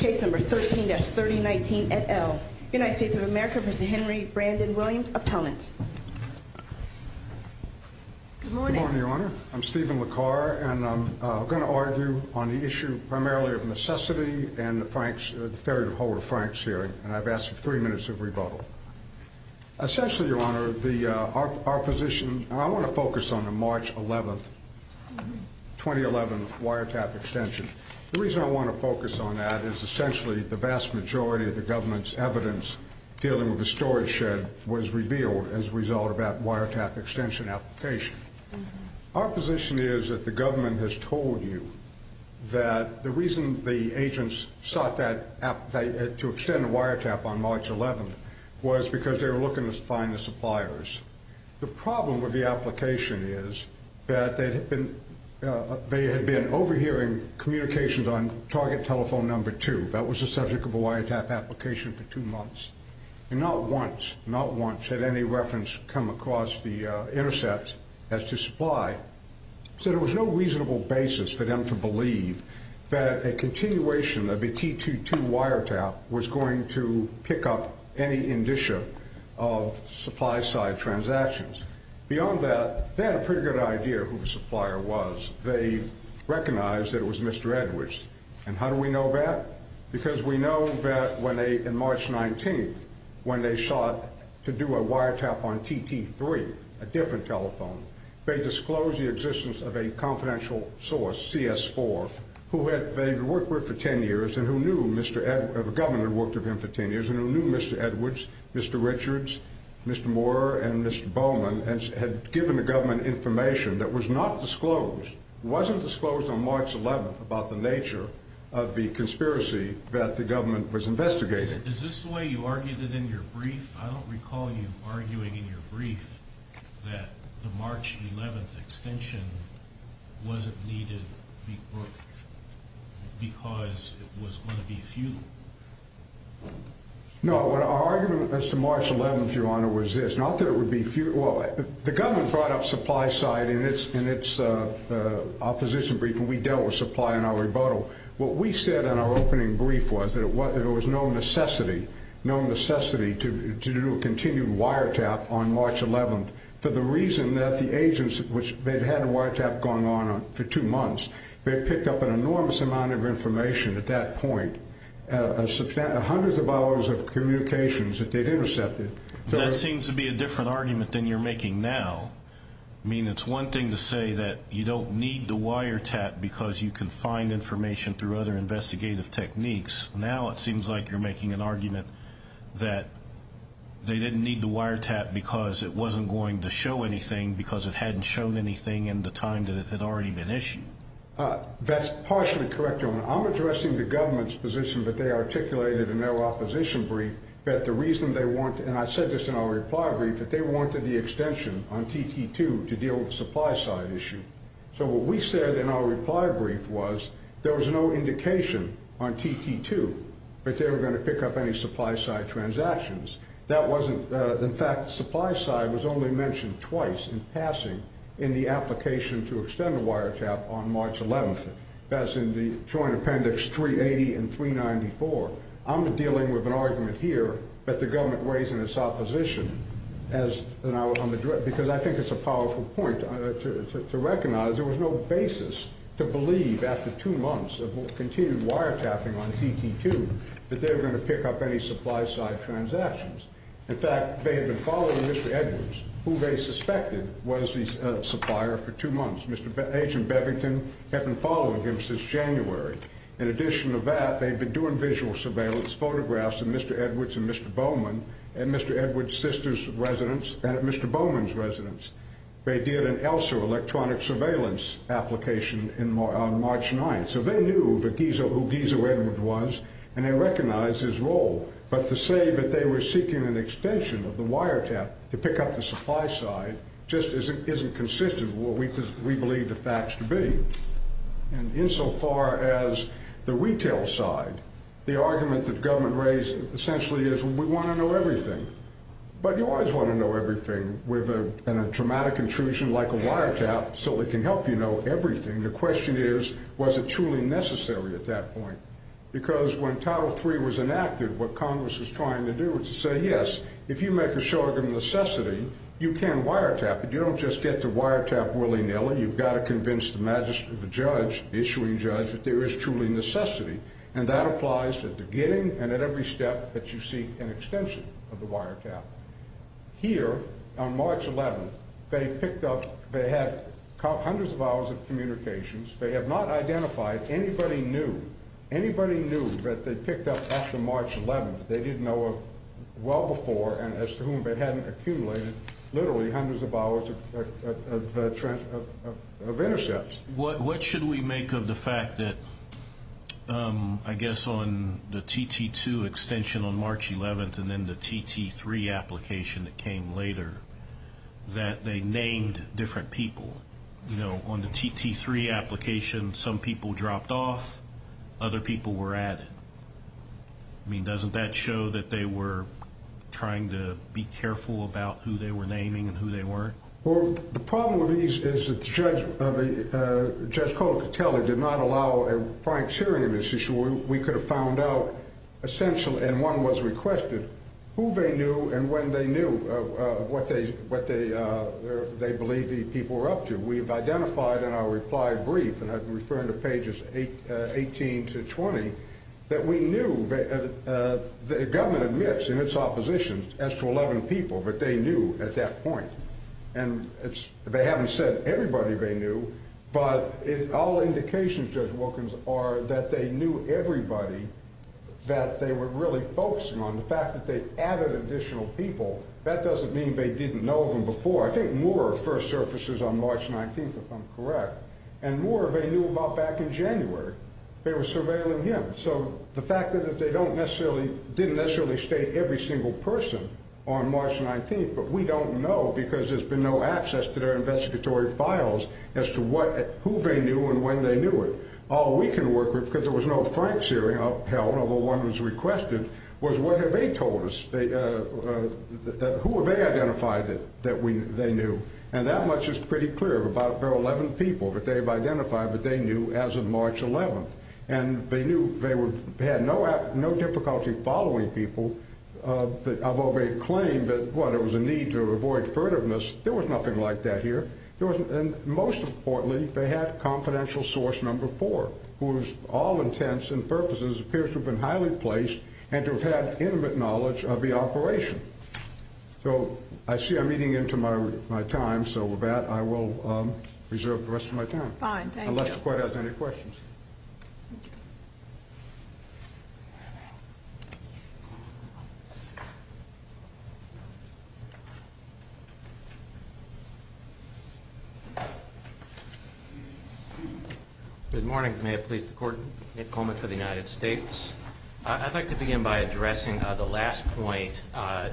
Appellant. Good morning, Your Honor. I'm Stephen LaCarre, and I'm going to argue on the issue primarily of necessity and the fair and whole of France here, and I've asked for three minutes of rebuttal. Essentially, Your Honor, our position, and I want to focus on the March 11th, 2011 wiretap extension. The reason I want to focus on that is essentially the vast majority of the government's evidence dealing with the storage shed was revealed as a result of that wiretap extension application. Our position is that the government has told you that the reason the agents sought to extend the wiretap on March 11th was because they were looking to find the suppliers. The problem with the application is that they had been overhearing communications on target telephone number two. That was the subject of a wiretap application for two months. And not once, not once, had any reference come across the intercepts as to supply. So there was no reasonable basis for them to believe that a continuation of the T22 wiretap was going to pick up any indicia of supply-side transactions. Beyond that, they had a pretty good idea who the supplier was. They recognized that it was Mr. Edwards. And how do we know that? Because we know that when they, in March 19th, when they sought to do a wiretap on TT3, a different telephone, they disclosed the existence of a confidential source, CS4, who they had worked with for ten years, and who knew Mr. Edwards, Mr. Richards, Mr. Moore, and Mr. Bowman, and had given the government information that was not disclosed. It wasn't disclosed on March 11th about the nature of the conspiracy that the government was investigating. Is this the way you argued it in your brief? I don't recall you arguing in your brief that the March 11th extension wasn't needed because it was going to be a few. No, our argument as to March 11th, Your Honor, was this. Not that it would be a few. Well, the government brought up supply-side in its opposition brief, and we dealt with supply in our rebuttal. What we said in our opening brief was that there was no necessity, no necessity to do a continued wiretap on March 11th for the reason that the agents, which they'd had a They'd picked up an enormous amount of information at that point, and subsent hundreds of hours of communications that they'd intercepted. That seems to be a different argument than you're making now. I mean, it's one thing to say that you don't need the wiretap because you can find information through other investigative techniques. Now it seems like you're making an argument that they didn't need the wiretap because it wasn't going to show anything because it hadn't shown anything in the time that it That's partially correct, Your Honor. I'm addressing the government's position that they articulated in their opposition brief that the reason they wanted, and I said this in our reply brief, that they wanted the extension on TT2 to deal with the supply-side issue. So what we said in our reply brief was there was no indication on TT2 that they were going to pick up any supply-side transactions. That wasn't, in fact, supply-side was only mentioned twice in passing in the application to extend the wiretap on March 11th. That's in the Troyan Appendix 380 and 394. I'm dealing with an argument here that the government raised in its opposition because I think it's a powerful point to recognize there was no basis to believe after two months of continued wiretapping on TT2 that they were going to pick up any supply-side transactions. In fact, they had been following Mr. Edwards, who they suspected was the supplier, for two months. Agent Bevington had been following him since January. In addition to that, they had been doing visual surveillance photographs of Mr. Edwards and Mr. Bowman and Mr. Edwards' sister's residence and Mr. Bowman's residence. They did an ELSA electronic surveillance application on March 9th. So they knew who Giza Redmond was, and they recognized his role. But to say that they were seeking an extension of the wiretap to pick up the supply-side just isn't consistent with what we believe the facts to be. And insofar as the retail side, the argument that the government raised essentially is we want to know everything. But you always want to know everything with a traumatic intrusion like a wiretap so it can help you know everything. The question is, was it truly necessary at that point? Because when Title III was enacted, what Congress was trying to do was to say, yes, if you make a short-term necessity, you can wiretap it. You don't just get to wiretap willy-nilly. You've got to convince the judge, the issuing judge, that there is truly necessity. And that applies at the beginning and at every step that you seek an extension of the wiretap. Here, on March 11th, they picked up, they had hundreds of hours of communications. They have not identified anybody new, anybody new that they picked up after March 11th. They didn't know of well before and as to whom they hadn't accumulated literally hundreds of hours of intercepts. What should we make of the fact that, I guess, on the TT2 extension on March 11th and then the TT3 application that came later, that they named different people? On the TT3 application, some people dropped off. Other people were added. I mean, doesn't that show that they were trying to be careful about who they were naming and who they weren't? Well, the problem with these is the judge called to tell it did not allow a criteria in this issue. We could have found out essentially, and one was requested, who they knew and when they knew what they believed these people were up to. We have identified in our reply brief, and I'm referring to pages 18 to 20, that we knew the government admits in its opposition as to 11 people, but they knew at that point. They haven't said everybody they knew, but all indications, Judge Wilkins, are that they knew everybody that they were really focusing on. The fact that they added additional people, that doesn't mean they didn't know them before. I think more first officers on March 19th, if I'm correct, and more they knew about back in January. They were surveilling him. The fact that they didn't necessarily state every single person on March 19th, but we don't know because there's been no access to their investigatory files as to who they knew and when they knew it. All we can work with, because there was no facts here, although one was requested, was what have they told us? Who have they identified that they knew? That much is pretty clear. There are 11 people that they've identified that they knew as of March 11th. They knew they had no difficulty following people, although they claimed that there was a need to avoid furtiveness. There was nothing like that here. Most importantly, they have confidential source number four, whose all intents and purposes appear to have been highly placed and to have had intimate knowledge of the operation. I see I'm eating into my time, so with that I will reserve the rest of my time. Fine, thank you. Unless the court has any questions. Good morning. May it please the court, Nick Coleman for the United States. I'd like to begin by addressing the last point that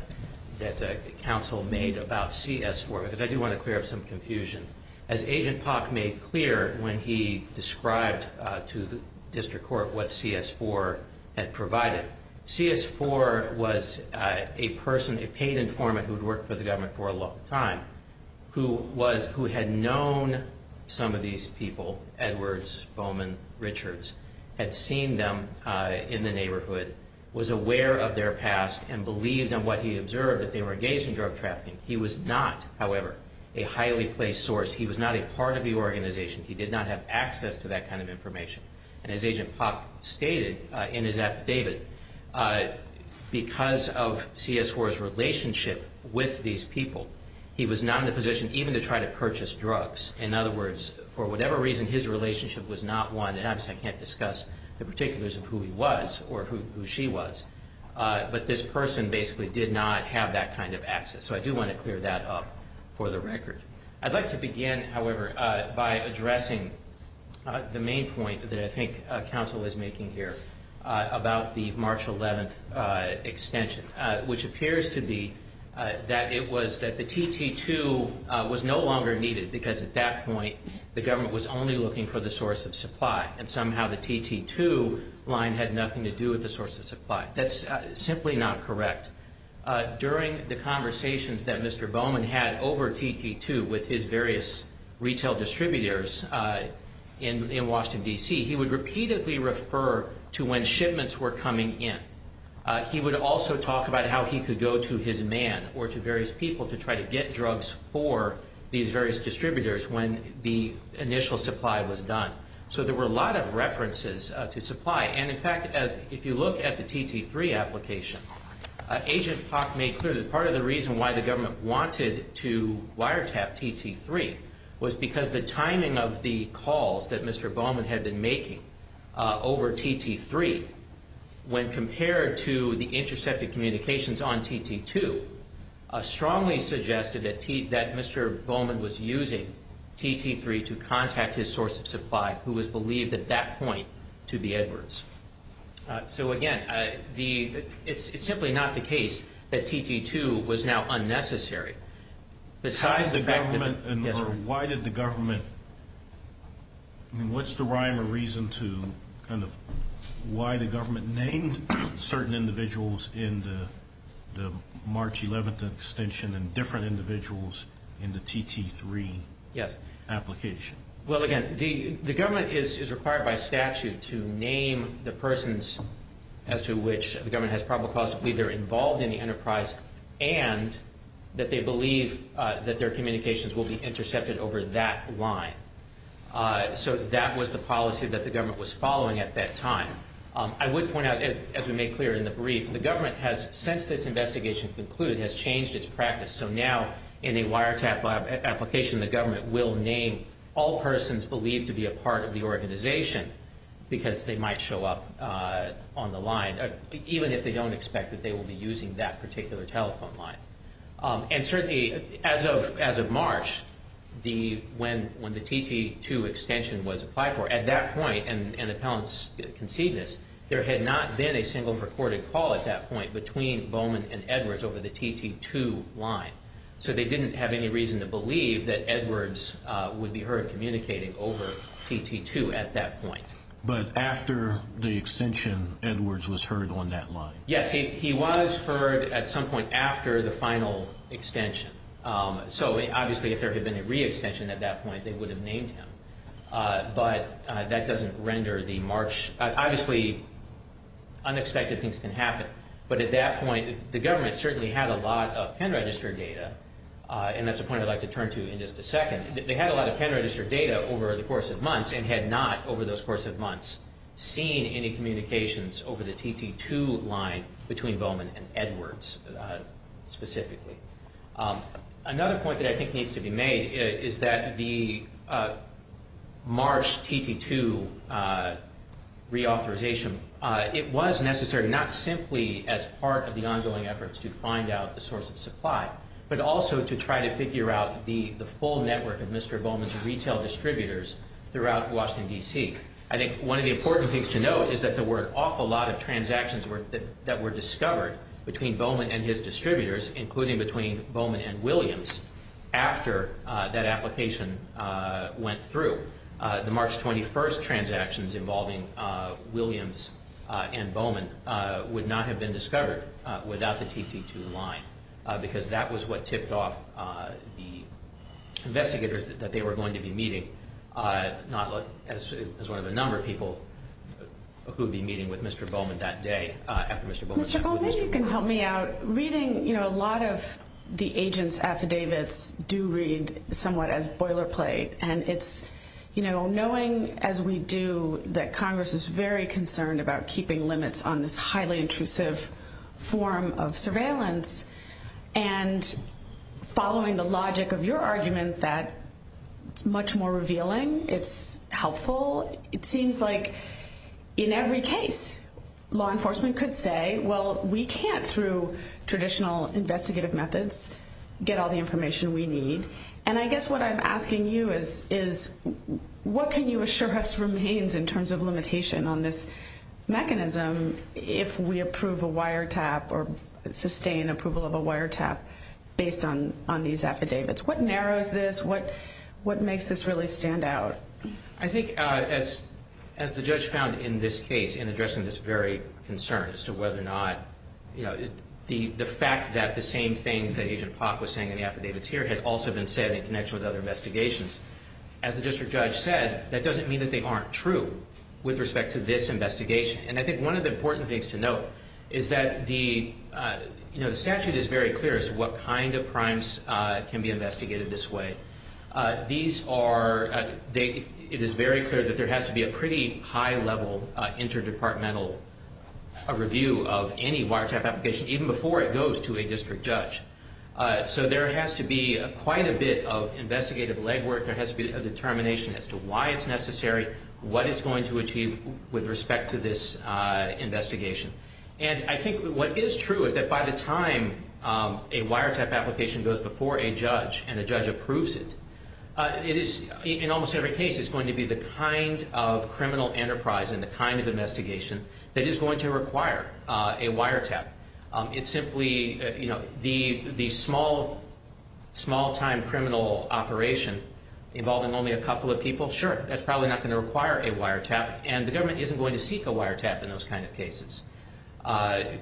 the counsel made about CS4, because I do want to clear up some confusion. As Agent Park made clear when he described to the district court what CS4 had provided, CS4 was a person, a paid informant who had worked for the government for a long time, who had known some of these people, Edwards, Bowman, Richards, had seen them in the neighborhood, was aware of their past and believed in what he observed that they were engaged in drug trafficking. He was not, however, a highly placed source. He was not a part of the organization. He did not have access to that kind of information. As Agent Park stated in his affidavit, because of CS4's relationship with these people, he was not in a position even to try to purchase drugs. In other words, for whatever reason, his relationship was not one, and obviously I can't discuss the particulars of who he was or who she was, but this person basically did not have that kind of access. So I do want to clear that up for the record. I'd like to begin, however, by addressing the main point that I think counsel is making here about the March 11th extension, which appears to be that it was that the TT2 was no longer needed because at that point the government was only looking for the source of supply, and somehow the TT2 line had nothing to do with the source of supply. That's simply not correct. During the conversations that Mr. Bowman had over TT2 with his various retail distributors in Washington, D.C., he would repeatedly refer to when shipments were coming in. He would also talk about how he could go to his man or to various people to try to get drugs for these various distributors when the initial supply was done. So there were a lot of references to supply, and in fact, if you look at the TT3 application, Agent Park made clear that part of the reason why the government wanted to wiretap TT3 was because the timing of the calls that Mr. Bowman had been making over TT3, when compared to the intercepted communications on TT2, strongly suggested that Mr. Bowman was using TT3 to contact his source of supply, who was believed at that point to be Edwards. So again, it's simply not the case that TT2 was now unnecessary. Besides the government, why did the government... I mean, what's the rhyme or reason to kind of why the government named certain individuals in the March 11th extension and different individuals in the TT3 application? Well, again, the government is required by statute to name the persons as to which the government has probably possibly either involved in the enterprise and that they believe that their communications will be intercepted over that line. So that was the policy that the government was following at that time. I would point out, as we made clear in the brief, the government has, since this investigation concluded, has changed its practice. So now in a wiretap application, the government will name all persons believed to be a part of the organization because they might show up on the line, even if they don't expect that they will be using that particular telephone line. And certainly, as of March, when the TT2 extension was applied for, at that point, and the panelists can see this, there had not been a single recorded call at that point between Bowman and Edwards over the TT2 line. So they didn't have any reason to believe that Edwards would be heard communicating over TT2 at that point. But after the extension, Edwards was heard on that line? Yes, he was heard at some point after the final extension. So obviously, if there had been a re-extension at that point, they would have named him. But that doesn't render the March. Obviously, unexpected things can happen. But at that point, the government certainly had a lot of pen-registered data, and that's a point I'd like to turn to in just a second. They had a lot of pen-registered data over the course of months and had not, over those course of months, seen any communications over the TT2 line between Bowman and Edwards specifically. Another point that I think needs to be made is that the March TT2 reauthorization, it was necessary not simply as part of the ongoing efforts to find out the source of supply, but also to try to figure out the full network of Mr. Bowman's retail distributors throughout Washington, D.C. I think one of the important things to note is that there were an awful lot of transactions that were discovered between Bowman and his distributors, including between Bowman and Williams, after that application went through. The March 21st transactions involving Williams and Bowman would not have been discovered without the TT2 line because that was what tipped off the investigators that they were going to be meeting, not as one of the number of people who would be meeting with Mr. Bowman that day. Mr. Bowman, if you can help me out. Reading a lot of the agents' affidavits do read somewhat as boilerplate, and knowing as we do that Congress is very concerned about keeping limits on this highly intrusive form of surveillance, and following the logic of your argument that it's much more revealing, it's helpful, it seems like in every case law enforcement could say, well, we can't through traditional investigative methods get all the information we need. And I guess what I'm asking you is what can you assure us remains in terms of limitation on this mechanism if we approve a wiretap or sustain approval of a wiretap based on these affidavits? What narrows this? What makes this really stand out? I think as the judge found in this case in addressing this very concern as to whether or not, you know, the fact that the same thing that Agent Plotk was saying in the affidavits here has also been said in connection with other investigations. As the district judge said, that doesn't mean that they aren't true with respect to this investigation. And I think one of the important things to note is that the statute is very clear as to what kind of crimes can be investigated this way. These are, it is very clear that there has to be a pretty high-level interdepartmental review of any wiretap application even before it goes to a district judge. So there has to be quite a bit of investigative legwork. There has to be a determination as to why it's necessary, what it's going to achieve with respect to this investigation. And I think what is true is that by the time a wiretap application goes before a judge and the judge approves it, it is, in almost every case, it's going to be the kind of criminal enterprise and the kind of investigation that is going to require a wiretap. It's simply, you know, the small-time criminal operation involving only a couple of people, sure, that's probably not going to require a wiretap. And the government isn't going to seek a wiretap in those kind of cases.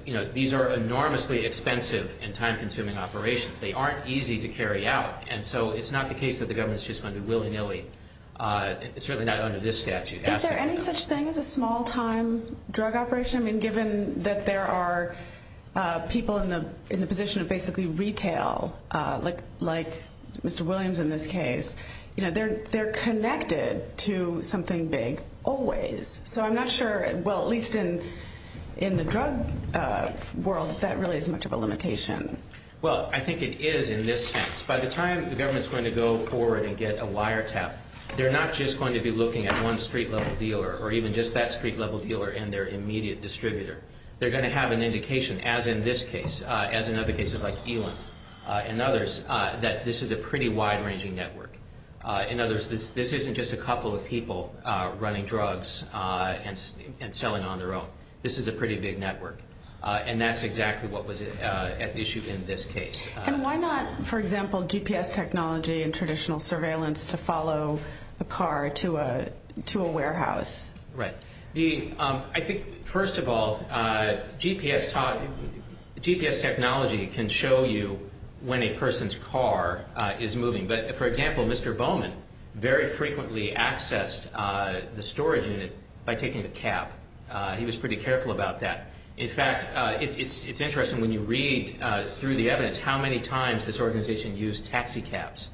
You know, these are enormously expensive and time-consuming operations. They aren't easy to carry out. And so it's not the case that the government is just going to willy-nilly. It's really not under this statute. Is there any such thing as a small-time drug operation? And given that there are people in the position of basically retail, like Mr. Williams in this case, you know, they're connected to something big always. So I'm not sure, well, at least in the drug world, if that really is much of a limitation. Well, I think it is in this case. By the time the government is going to go forward and get a wiretap, they're not just going to be looking at one street-level dealer or even just that street-level dealer and their immediate distributor. They're going to have an indication, as in this case, as in other cases like Elon and others, that this is a pretty wide-ranging network. In other words, this isn't just a couple of people running drugs and selling on their own. This is a pretty big network. And that's exactly what was at issue in this case. And why not, for example, GPS technology and traditional surveillance to follow a car to a warehouse? Right. I think, first of all, GPS technology can show you when a person's car is moving. But, for example, Mr. Bowman very frequently accessed the storage unit by taking the cab. He was pretty careful about that. In fact, it's interesting when you read through the evidence how many times this organization used taxi cabs.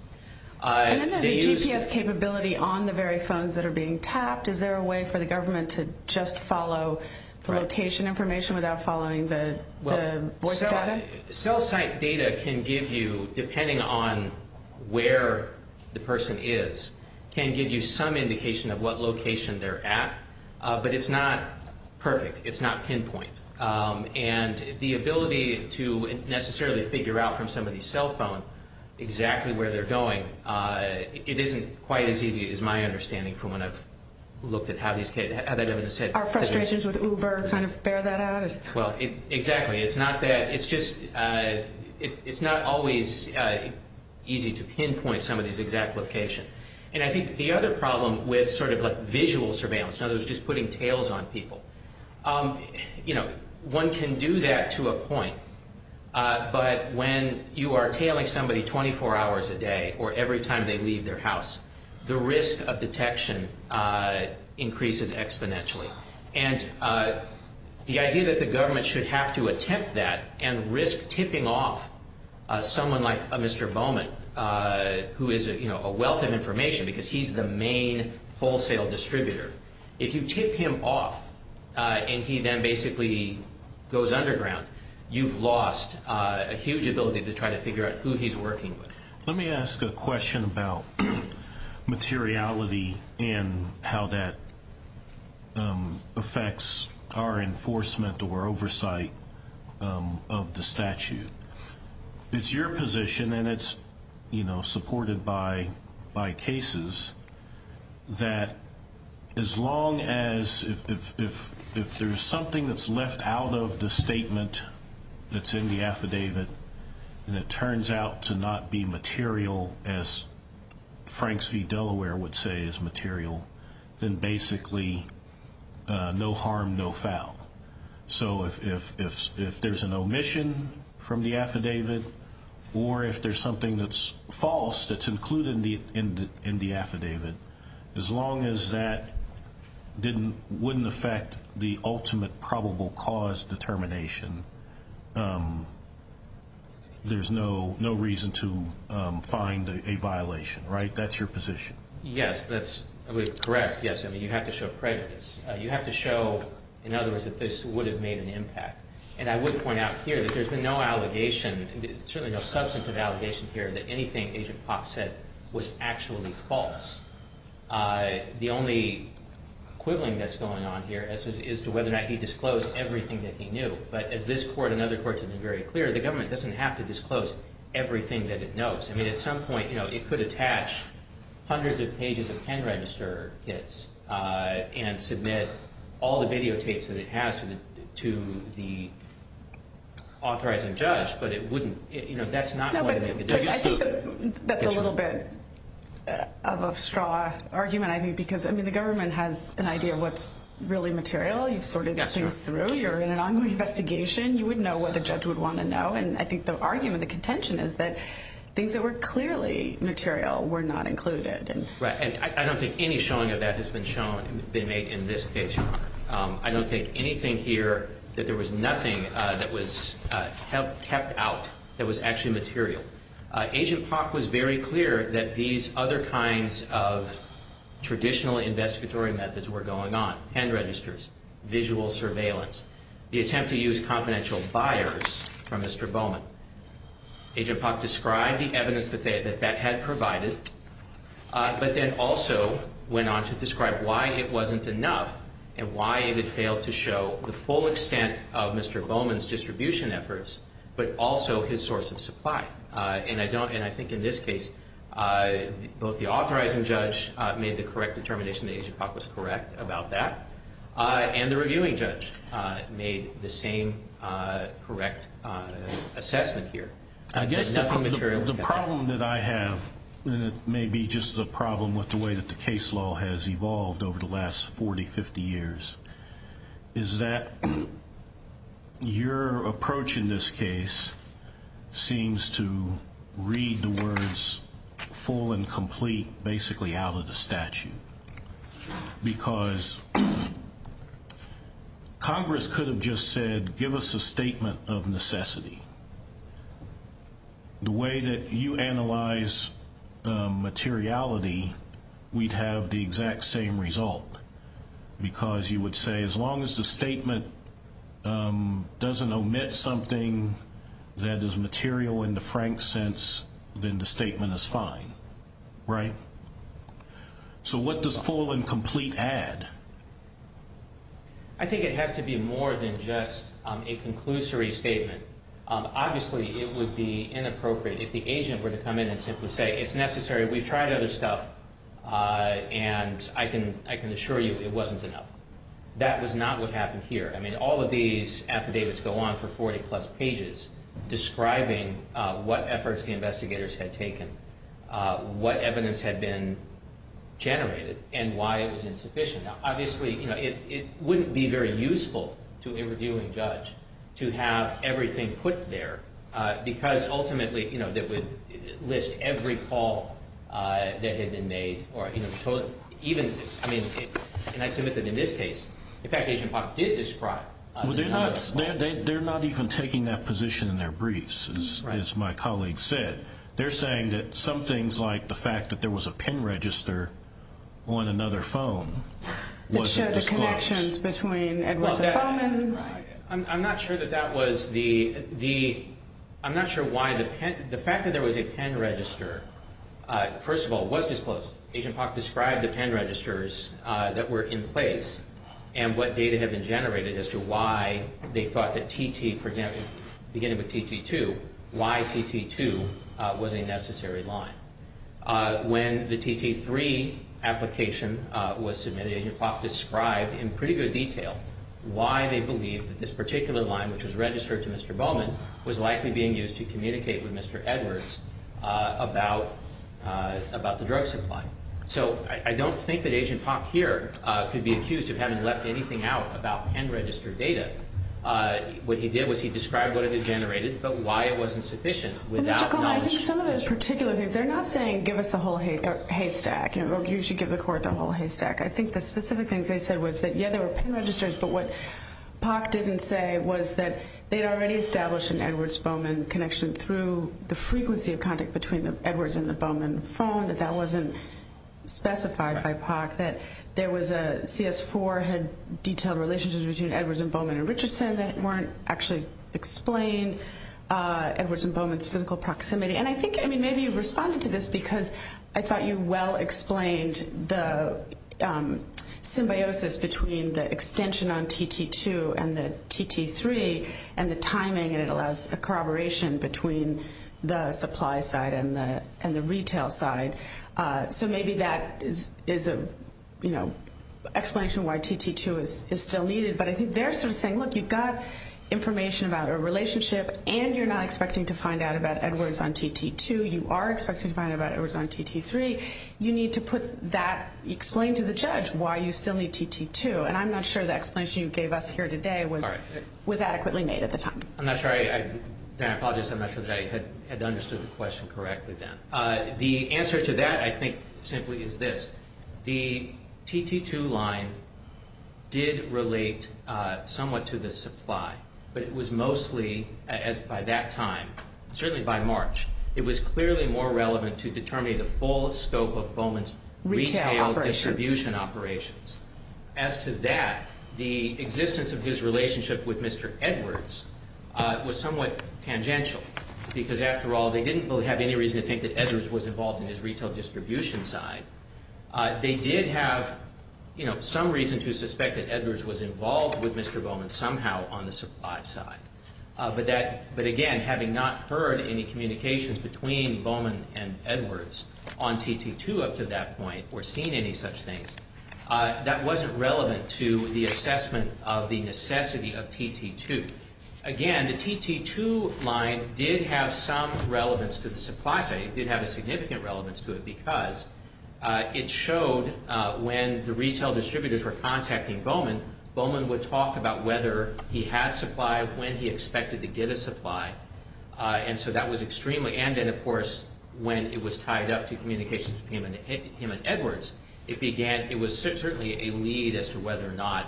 And then there's the GPS capability on the very phones that are being tapped. Is there a way for the government to just follow location information without following the voice data? Cell site data can give you, depending on where the person is, can give you some indication of what location they're at. But it's not perfect. It's not pinpoint. And the ability to necessarily figure out from somebody's cell phone exactly where they're going, it isn't quite as easy as my understanding from when I've looked at how these kids... Are frustrations with Uber kind of bear that out? Well, exactly. It's not that. It's just it's not always easy to pinpoint somebody's exact location. And I think the other problem with sort of like visual surveillance, in other words just putting tails on people, you know, one can do that to a point. But when you are tailing somebody 24 hours a day or every time they leave their house, the risk of detection increases exponentially. And the idea that the government should have to attempt that and risk tipping off someone like Mr. Bowman, who is, you know, a wealth of information because he's the main wholesale distributor. If you tip him off and he then basically goes underground, you've lost a huge ability to try to figure out who he's working with. Let me ask a question about materiality and how that affects our enforcement or oversight of the statute. It's your position, and it's, you know, supported by cases, that as long as if there's something that's left out of the statement that's in the affidavit and it turns out to not be material, as Franks v. Delaware would say is material, then basically no harm, no foul. So if there's an omission from the affidavit or if there's something that's false that's included in the affidavit, as long as that wouldn't affect the ultimate probable cause determination, there's no reason to find a violation, right? That's your position. Yes, that's correct, yes. I mean, you have to show prejudice. You have to show, in other words, that this would have made an impact. And I would point out here that there's been no allegation, certainly no substantive allegation here that anything Agent Fox said was actually false. The only quibbling that's going on here is to whether or not he disclosed everything that he knew. But if this court and other courts have been very clear, the government doesn't have to disclose everything that it knows. I mean, at some point, you know, it could attach hundreds of pages of pen register kits and submit all the videotapes that it has to the authorizing judge, but it wouldn't. You know, that's not going to make a difference. That's a little bit of a straw argument, I think, because, I mean, the government has an idea of what's really material. You've sorted everything through. You're in an ongoing investigation. You wouldn't know what the judge would want to know. And I think the argument, the contention is that things that were clearly material were not included. Right. And I don't think any showing of that has been shown in this case. I don't think anything here that there was nothing that was kept out that was actually material. Agent Fox was very clear that these other kinds of traditional investigatory methods were going on, pen registers, visual surveillance. The attempt to use confidential buyers from Mr. Bowman. Agent Fox described the evidence that that had provided, but then also went on to describe why it wasn't enough and why it had failed to show the full extent of Mr. Bowman's distribution efforts, but also his source of supply. And I think in this case, both the authorizing judge made the correct determination that Agent Fox was correct about that, and the reviewing judge made the same correct assessment here. The problem that I have, and it may be just the problem with the way that the case law has evolved over the last 40, 50 years, is that your approach in this case seems to read the words full and complete basically out of the statute because Congress could have just said give us a statement of necessity. The way that you analyze materiality, we'd have the exact same result because you would say as long as the statement doesn't omit something that is material in the frank sense, then the statement is fine, right? So what does full and complete add? I think it has to be more than just a conclusory statement. Obviously, it would be inappropriate if the agent were to come in and simply say it's necessary, we've tried other stuff, and I can assure you it wasn't enough. That was not what happened here. I mean, all of these affidavits go on for 40-plus pages describing what efforts the investigators had taken, what evidence had been generated, and why it was insufficient. Obviously, it wouldn't be very useful to a reviewing judge to have everything put there because ultimately it would list every fault that had been made. I mean, can I submit that in this case, in fact, Agent Fox did this fraud. They're not even taking that position in their briefs, as my colleague said. They're saying that some things like the fact that there was a PIN register on another phone wasn't disclosed. It showed the connections between Edward's phones. I'm not sure why the fact that there was a PIN register, first of all, was disclosed. Agent Fox described the PIN registers that were in place and what data had been generated as to why they thought that TT, for example, beginning with TT2, why TT2 was a necessary line. When the TT3 application was submitted, Agent Fox described in pretty good detail why they believed that this particular line, which was registered to Mr. Bowman, was likely being used to communicate with Mr. Edwards about the drug supply. So I don't think that Agent Fox here could be accused of having left anything out about PIN registered data. What he did was he described what it had generated but why it wasn't sufficient. I think some of those particular things, they're not saying give us a whole haystack. You should give the court the whole haystack. I think the specific thing they said was that, yeah, there were PIN registers, but what POC didn't say was that they'd already established an Edwards-Bowman connection through the frequency of contact between the Edwards and the Bowman phone, that that wasn't specified by POC, that there was a CS4 had detailed relationships between Edwards and Bowman and Richardson that weren't actually explained, Edwards and Bowman's physical proximity. And I think, I mean, maybe you responded to this because I thought you well explained the symbiosis between the extension on TT2 and the TT3 and the timing, and it allows the corroboration between the supply side and the retail side. So maybe that is an explanation why TT2 is still needed, but I think they're still saying, look, you've got information about a relationship and you're not expecting to find out about Edwards on TT2. You are expecting to find out about Edwards on TT3. You need to put that, explain to the judge why you still need TT2, and I'm not sure the explanation you gave us here today was adequately made at the time. I'm not sure I had understood the question correctly then. The answer to that, I think, simply is this. The TT2 line did relate somewhat to the supply, but it was mostly, by that time, certainly by March, it was clearly more relevant to determine the full scope of Bowman's retail distribution operations. As to that, the existence of his relationship with Mr. Edwards was somewhat tangential because, after all, they didn't really have any reason to think that Edwards was involved in his retail distribution side. They did have some reason to suspect that Edwards was involved with Mr. Bowman somehow on the supply side, but again, having not heard any communications between Bowman and Edwards on TT2 up to that point or seen any such things, that wasn't relevant to the assessment of the necessity of TT2. Again, the TT2 line did have some relevance to the supply side. It did have a significant relevance to it because it showed when the retail distributors were contacting Bowman, Bowman would talk about whether he had supply, when he expected to get a supply, and so that was extremely – and then, of course, when it was tied up to communications between him and Edwards, it began – it was certainly a lead as to whether or not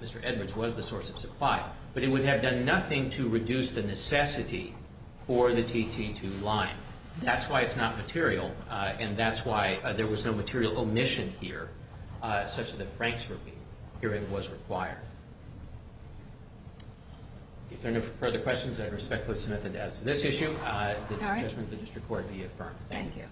Mr. Edwards was the source of supply, but it would have done nothing to reduce the necessity for the TT2 line. That's why it's not material, and that's why there was no material omission here such that Frank's review was required. If there are no further questions, I'd respectfully submit them to this issue. All right. Thank you.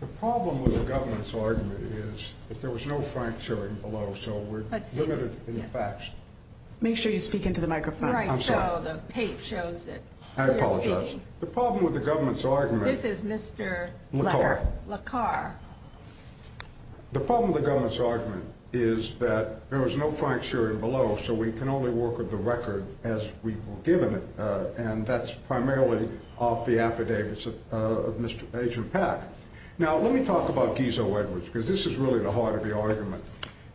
The problem with the government's argument is that there was no Frank Sheridan below, so we're limited in the facts. Make sure you speak into the microphone. Right, so the tape shows it. I apologize. The problem with the government's argument – This is Mr. LaCar. LaCar. The problem with the government's argument is that there was no Frank Sheridan below, so we can only work with the record as we were given it, and that's primarily off the affidavits of Agent Pack. Now, let me talk about Gizzo Edwards, because this is really the heart of the argument.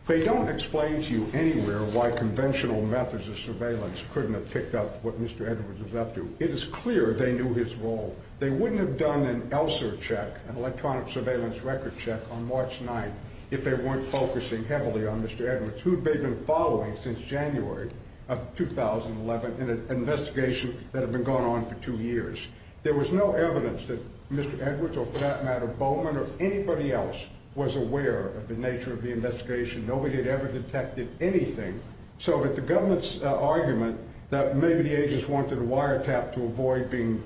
They don't explain to you anywhere why conventional methods of surveillance couldn't have picked up what Mr. Edwards was up to. It is clear they knew his role. They wouldn't have done an ELSR check, an electronic surveillance record check, on March 9th, if they weren't focusing heavily on Mr. Edwards, who had been following since January of 2011 in an investigation that had been going on for two years. There was no evidence that Mr. Edwards, or for that matter Bowman or anybody else, was aware of the nature of the investigation. Nobody had ever detected anything. So if the government's argument that maybe the agents wanted a wiretap to avoid being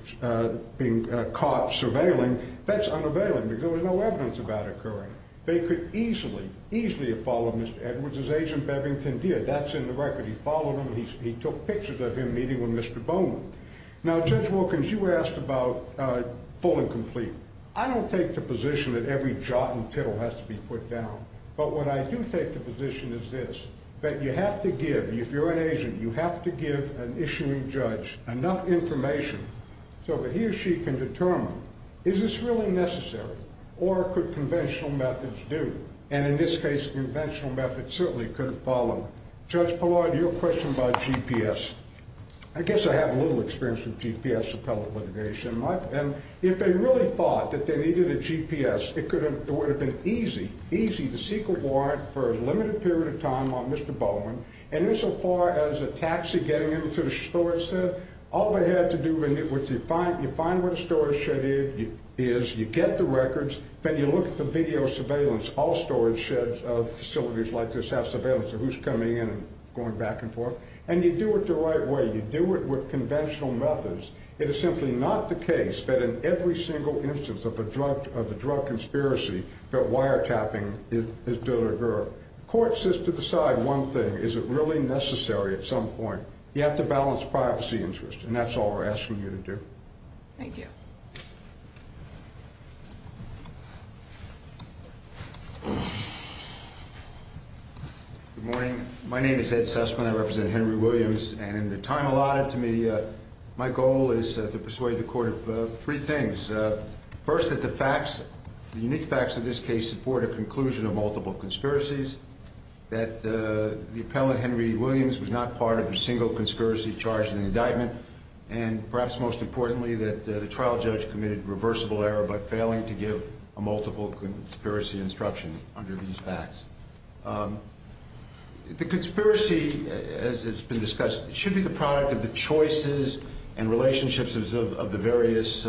caught surveilling, that's unavailable because there's no evidence of that occurring. They could easily, easily have followed Mr. Edwards as Agent Bevington did. That's in the record. He followed him and he took pictures of him meeting with Mr. Bowman. Now, Judge Wilkins, you asked about full and complete. I don't take the position that every jot and tittle has to be put down, but what I do take the position is this, that you have to give, if you're an agent, you have to give an issuing judge enough information so that he or she can determine, is this really necessary or could conventional methods do? And in this case, conventional methods certainly couldn't follow. Judge Bullard, your question about GPS. I guess I have a little experience with GPS and telecommunication. If they really thought that they needed a GPS, it would have been easy, easy to seek a warrant for a limited period of time on Mr. Bowman. And insofar as a taxi getting him to the storage shed, all they had to do was you find where the storage shed is, you get the records, then you look at the video surveillance. All storage sheds of facilities like this have surveillance of who's coming in and going back and forth. And you do it the right way. You do it with conventional methods. It is simply not the case that in every single instance of a drug conspiracy, that wiretapping is done or heard. The court says to decide one thing, is it really necessary at some point? You have to balance privacy interests, and that's all we're asking you to do. Thank you. Good morning. My name is Ed Sussman. I represent Henry Williams. And in the time allotted to me, my goal is to persuade the court of three things. First, that the facts, the unique facts of this case, support a conclusion of multiple conspiracies, that the appellant Henry Williams was not part of a single conspiracy charged in an indictment, and perhaps most importantly, that the trial judge committed reversible error by failing to give a multiple conspiracy instruction under these facts. The conspiracy, as has been discussed, should be the product of the choices and relationships of the various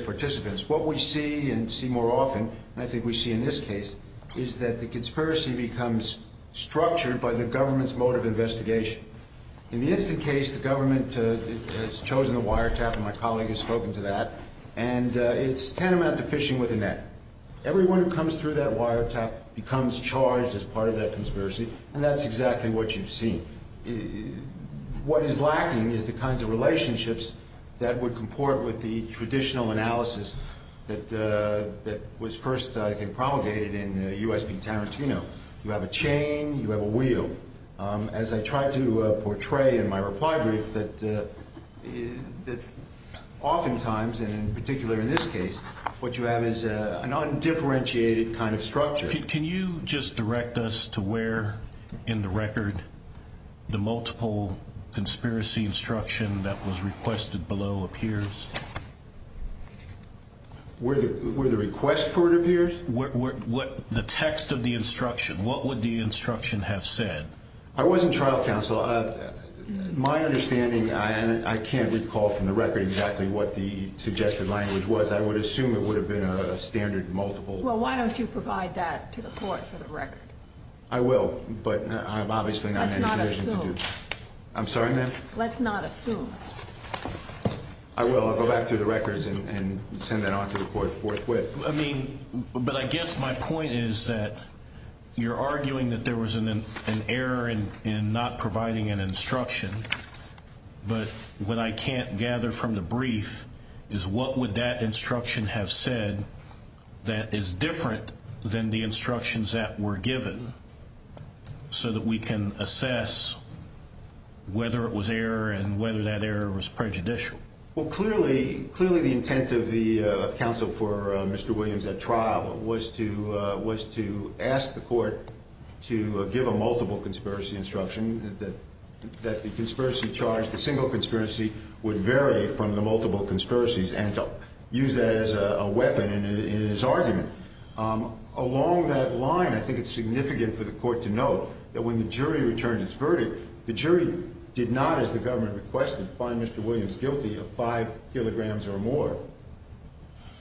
participants. What we see and see more often, and I think we see in this case, is that the conspiracy becomes structured by the government's mode of investigation. In this case, the government has chosen a wiretap, and my colleague has spoken to that, and it's tantamount to fishing with a net. Everyone who comes through that wiretap becomes charged as part of that conspiracy, and that's exactly what you've seen. What is lacking is the kinds of relationships that would comport with the traditional analysis that was first promulgated in U.S. v. Tarantino. You have a chain, you have a wheel. As I tried to portray in my reply brief, that oftentimes, and in particular in this case, what you have is a non-differentiated kind of structure. Can you just direct us to where in the record the multiple conspiracy instruction that was requested below appears? Where the request for it appears? The text of the instruction. What would the instruction have said? I wasn't trial counsel. My understanding, I can't recall from the record exactly what the suggested language was. I would assume it would have been a standard multiple. Well, why don't you provide that to the court for the record? I will, but obviously I'm not in a position to do that. Let's not assume. I'm sorry, ma'am? Let's not assume. I will. I'll go back through the records and send that on to the court. I guess my point is that you're arguing that there was an error in not providing an instruction, but what I can't gather from the brief is what would that instruction have said that is different than the instructions that were given so that we can assess whether it was error and whether that error was prejudicial. Well, clearly the intent of the counsel for Mr. Williams at trial was to ask the court to give a multiple conspiracy instruction that the conspiracy charge, the single conspiracy, would vary from the multiple conspiracies and to use that as a weapon in his argument. Along that line, I think it's significant for the court to know that when the jury returns its verdict, the jury did not, as the government requested, find Mr. Williams guilty of 5 kilograms or more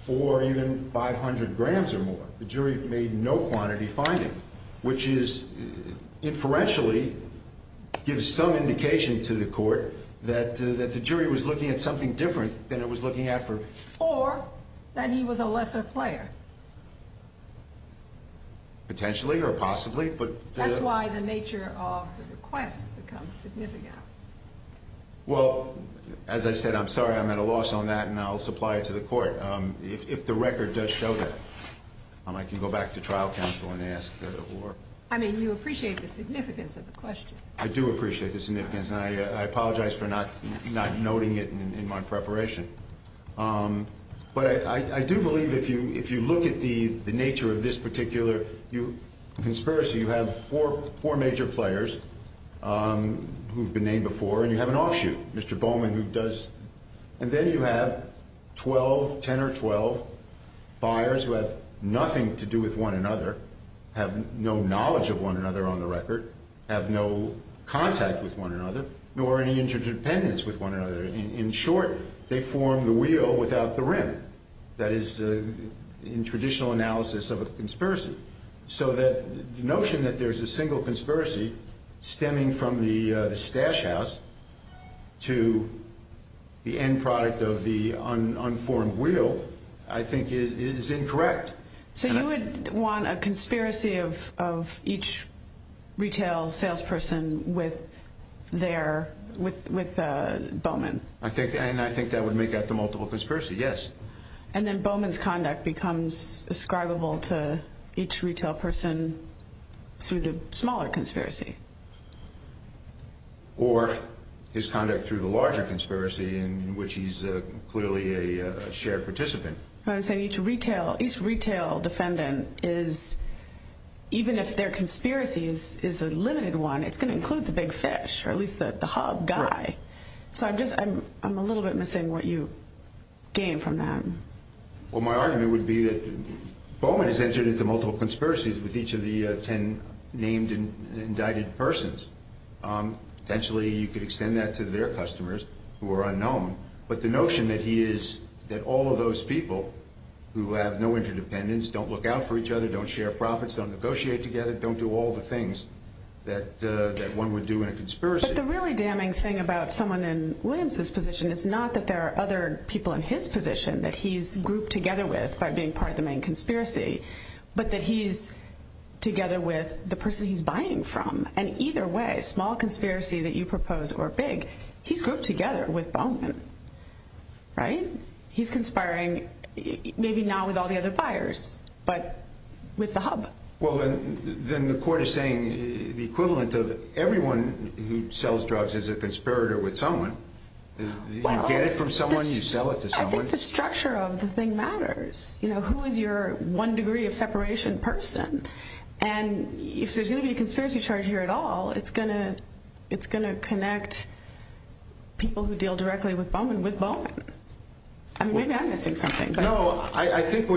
or even 500 grams or more. The jury made no quantity finding, which inferentially gives some indication to the court that the jury was looking at something different than it was looking at for... Or that he was a lesser player. Potentially or possibly, but... That's why the nature of the request becomes significant. Well, as I said, I'm sorry I'm at a loss on that, and I'll supply it to the court. If the record does show that, I can go back to trial counsel and ask for... I mean, you appreciate the significance of the question. I do appreciate the significance, and I apologize for not noting it in my preparation. But I do believe if you look at the nature of this particular conspiracy, you have four major players who have been named before, and you have an offshoot, Mr. Bowman, who does... And then you have 12, 10 or 12 buyers who have nothing to do with one another, have no knowledge of one another on the record, have no contact with one another, nor any interdependence with one another. In short, they form the wheel without the rim. That is in traditional analysis of a conspiracy. So the notion that there's a single conspiracy stemming from the stash house to the end product of the unformed wheel, I think, is incorrect. So you would want a conspiracy of each retail salesperson with Bowman? I think that would make up the multiple conspiracy, yes. And then Bowman's conduct becomes ascribable to each retail person through the smaller conspiracy? Or his conduct through the larger conspiracy in which he's clearly a shared participant. What I'm saying, each retail defendant is, even if their conspiracy is a limited one, it's going to include the big fish, or at least the hob guy. So I'm a little bit missing what you gained from that. Well, my argument would be that Bowman has entered into multiple conspiracies with each of the 10 named and indicted persons. Potentially, you could extend that to their customers who are unknown. But the notion that he is, that all of those people who have no interdependence, don't look out for each other, don't share profits, don't negotiate together, don't do all the things that one would do in a conspiracy. But the really damning thing about someone in Williams' position is not that there are other people in his position that he's grouped together with by being part of the main conspiracy, but that he's together with the person he's buying from. And either way, small conspiracy that you propose or big, he's grouped together with Bowman. Right? He's conspiring, maybe not with all the other buyers, but with the hub. Well, then the court is saying the equivalent of everyone who sells drugs is a conspirator with someone. You get it from someone, you sell it to someone. I think the structure of the thing matters. You know, who is your one degree of separation person? And if there's going to be a conspiracy chart here at all, it's going to connect people who deal directly with Bowman with Bowman. I mean, maybe I'm missing something. No, but I think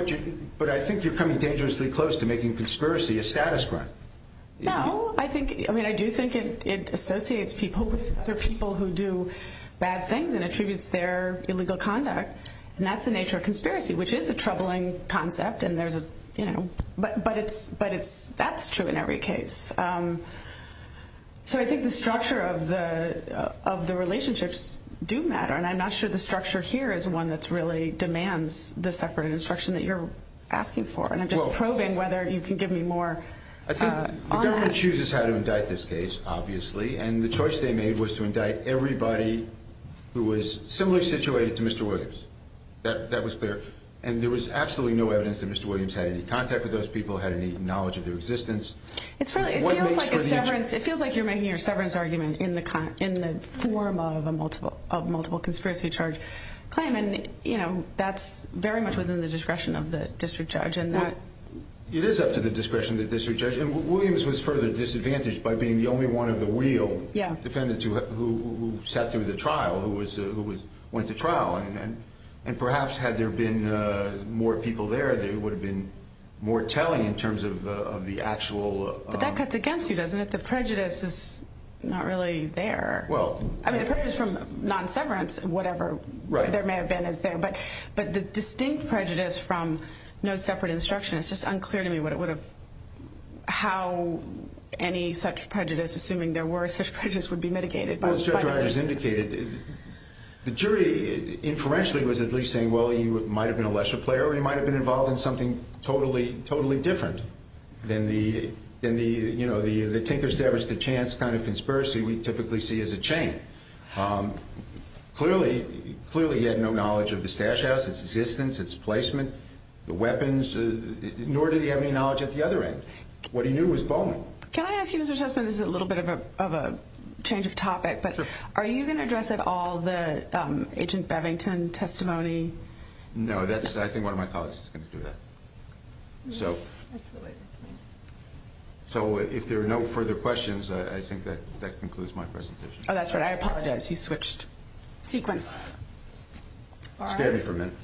you're coming dangerously close to making conspiracy a status quo. No. I mean, I do think it associates people with other people who do bad things and attributes their illegal conduct. And that's the nature of conspiracy, which is a troubling concept. But that's true in every case. So I think the structure of the relationships do matter, and I'm not sure the structure here is one that really demands the separate instruction that you're asking for. And I'm just probing whether you can give me more on that. I think the government chooses how to indict this case, obviously, and the choice they made was to indict everybody who was similarly situated to Mr. Williams. And there was absolutely no evidence that Mr. Williams had any contact with those people, had any knowledge of their existence. It feels like you're making a severance argument in the form of a multiple conspiracy charge claim, and, you know, that's very much within the discretion of the district judge. It is up to the discretion of the district judge. And Williams was further disadvantaged by being the only one of the real defendants who sat through the trial, who went to trial, and perhaps had there been more people there, there would have been more telling in terms of the actual. But that cuts against you, doesn't it? The prejudice is not really there. Well. I mean, it comes from non-severance, whatever there may have been. But the distinct prejudice from no separate instruction, it's just unclear to me how any such prejudice, assuming there were such prejudice, would be mitigated. As indicated, the jury, inferentially, was at least saying, well, he might have been a leisure player or he might have been involved in something totally different than the, you know, the tinker-stabbers-to-chance kind of conspiracy we typically see as a chain. Clearly, he had no knowledge of the stash house, its existence, its placement, the weapons, nor did he have any knowledge of the other end. What he knew was Bowman. Can I ask you, Mr. Chessman, this is a little bit of a change of topic, but are you going to address all the Agent Bevington testimony? No. I think one of my colleagues is going to do that. So if there are no further questions, I think that concludes my presentation. Oh, that's right. I apologize. You switched sequence. Stand for a minute.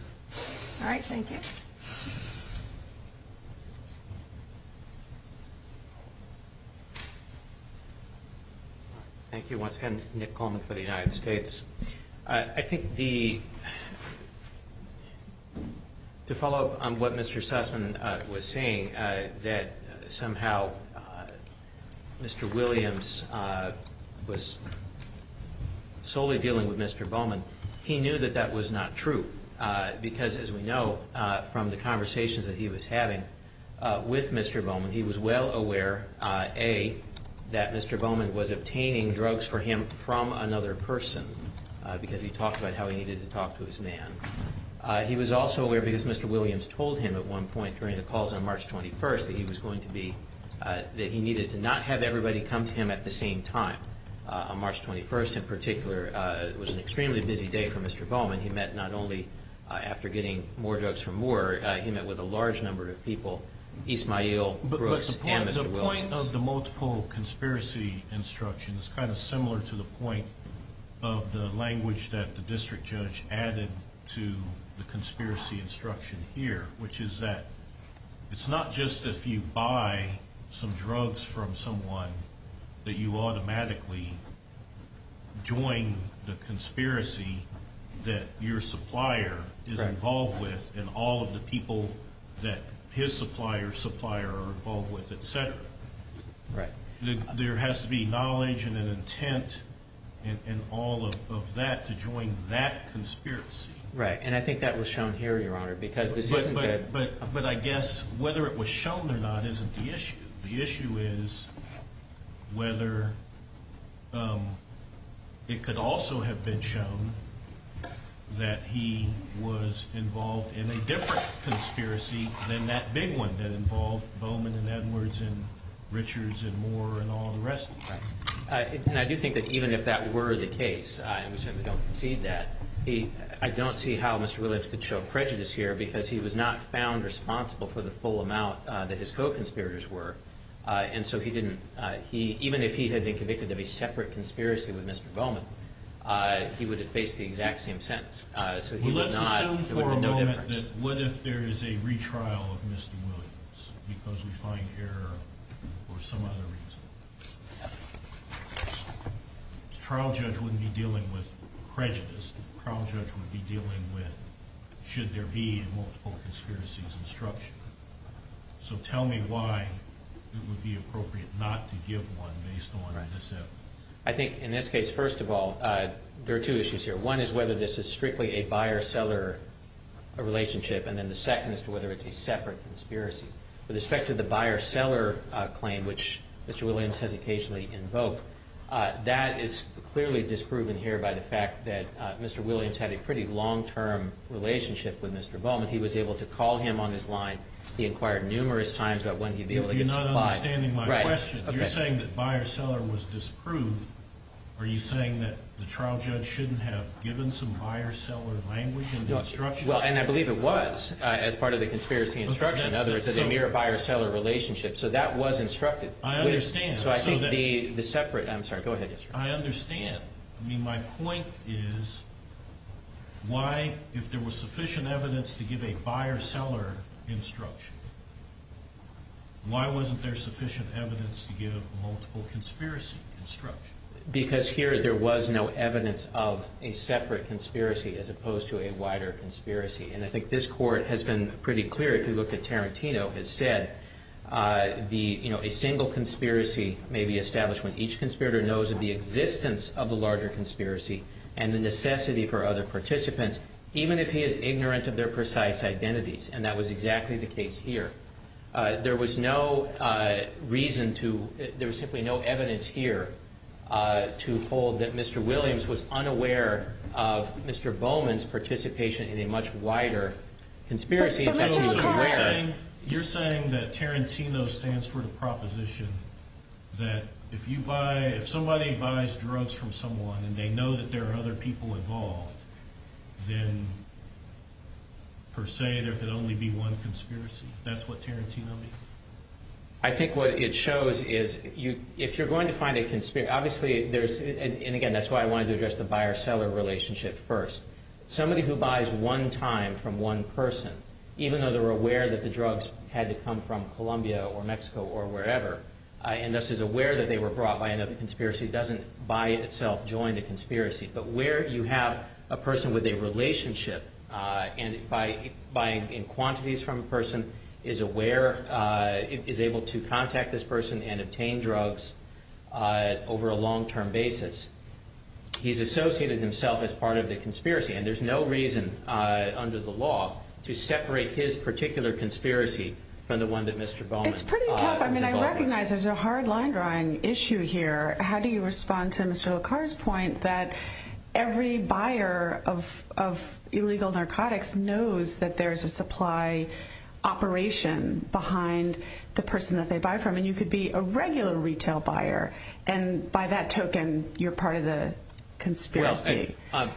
All right. Thank you. Thank you. Once again, Nick Coleman for the United States. I think to follow up on what Mr. Sussman was saying, that somehow Mr. Williams was solely dealing with Mr. Bowman, he knew that that was not true because, as we know from the conversations that he was having with Mr. Bowman, he was well aware, A, that Mr. Bowman was obtaining drugs for him from another person because he talked about how he needed to talk to his man. He was also aware, because Mr. Williams told him at one point during the calls on March 21st, that he needed to not have everybody come to him at the same time. On March 21st, in particular, it was an extremely busy day for Mr. Bowman. He met not only after getting more drugs for Moore, but he met with a large number of people, Ismael Brooks and Mr. Williams. But the point of the multiple conspiracy instructions is kind of similar to the point of the language that the district judge added to the conspiracy instruction here, which is that it's not just if you buy some drugs from someone that you automatically join the conspiracy that your supplier is involved with and all of the people that his supplier's supplier are involved with, etc. There has to be knowledge and an intent and all of that to join that conspiracy. Right, and I think that was shown here, Your Honor. But I guess whether it was shown or not isn't the issue. The issue is whether it could also have been shown that he was involved in a different conspiracy than that big one that involved Bowman and Edwards and Richards and Moore and all the rest of them. And I do think that even if that were the case, I certainly don't concede that. I don't see how Mr. Williams could show prejudice here, because he was not found responsible for the full amount that his co-conspirators were. And so even if he had been convicted of a separate conspiracy with Mr. Bowman, he would have faced the exact same sentence. So he would have had no difference. Well, let's assume for a moment that what if there is a retrial of Mr. Williams, because we find error or some other reason. The trial judge wouldn't be dealing with prejudice. The trial judge would be dealing with should there be multiple conspiracies and structure. So tell me why it would be appropriate not to give one based on this evidence. I think in this case, first of all, there are two issues here. One is whether this is strictly a buyer-seller relationship, and then the second is whether it's a separate conspiracy. With respect to the buyer-seller claim, which Mr. Williams has occasionally invoked, that is clearly disproven here by the fact that Mr. Williams had a pretty long-term relationship with Mr. Bowman. He was able to call him on his line. He inquired numerous times about when he would be able to comply. You're not understanding my question. You're saying that buyer-seller was disproved. Are you saying that the trial judge shouldn't have given some buyer-seller language in the instruction? Well, and I believe it was, as part of the conspiracy instruction, that it's a mere buyer-seller relationship. So that was instructed. I understand. I'm sorry, go ahead. I understand. I mean, my point is why, if there was sufficient evidence to give a buyer-seller instruction, why wasn't there sufficient evidence to give a multiple conspiracy instruction? Because here there was no evidence of a separate conspiracy as opposed to a wider conspiracy. And I think this court has been pretty clear, if you look at Tarantino, as said, a single conspiracy may be established when each conspirator knows of the existence of a larger conspiracy and the necessity for other participants, even if he is ignorant of their precise identities. And that was exactly the case here. There was no reason to, there was simply no evidence here to hold that Mr. Williams was unaware of Mr. Bowman's participation in a much wider conspiracy. You're saying that Tarantino stands for the proposition that if you buy, if somebody buys drugs from someone and they know that there are other people involved, then per se there could only be one conspiracy. That's what Tarantino means? I think what it shows is, if you're going to find a conspiracy, obviously there's, and again, that's why I wanted to address the buyer-seller relationship first. Somebody who buys one time from one person, even though they're aware that the drugs had to come from Colombia or Mexico or wherever, and thus is aware that they were brought by another conspiracy, doesn't by itself join the conspiracy. But where you have a person with a relationship and by buying in quantities from a person is aware, is able to contact this person and obtain drugs over a long-term basis, he's associated himself as part of the conspiracy, and there's no reason under the law to separate his particular conspiracy from the one that Mr. Bowman. It's pretty tough. I mean, I recognize there's a hard line-drawing issue here. How do you respond to Mr. LaCar's point that every buyer of illegal narcotics knows that there's a supply operation behind the person that they buy from, and you could be a regular retail buyer, and by that token, you're part of the conspiracy? Well,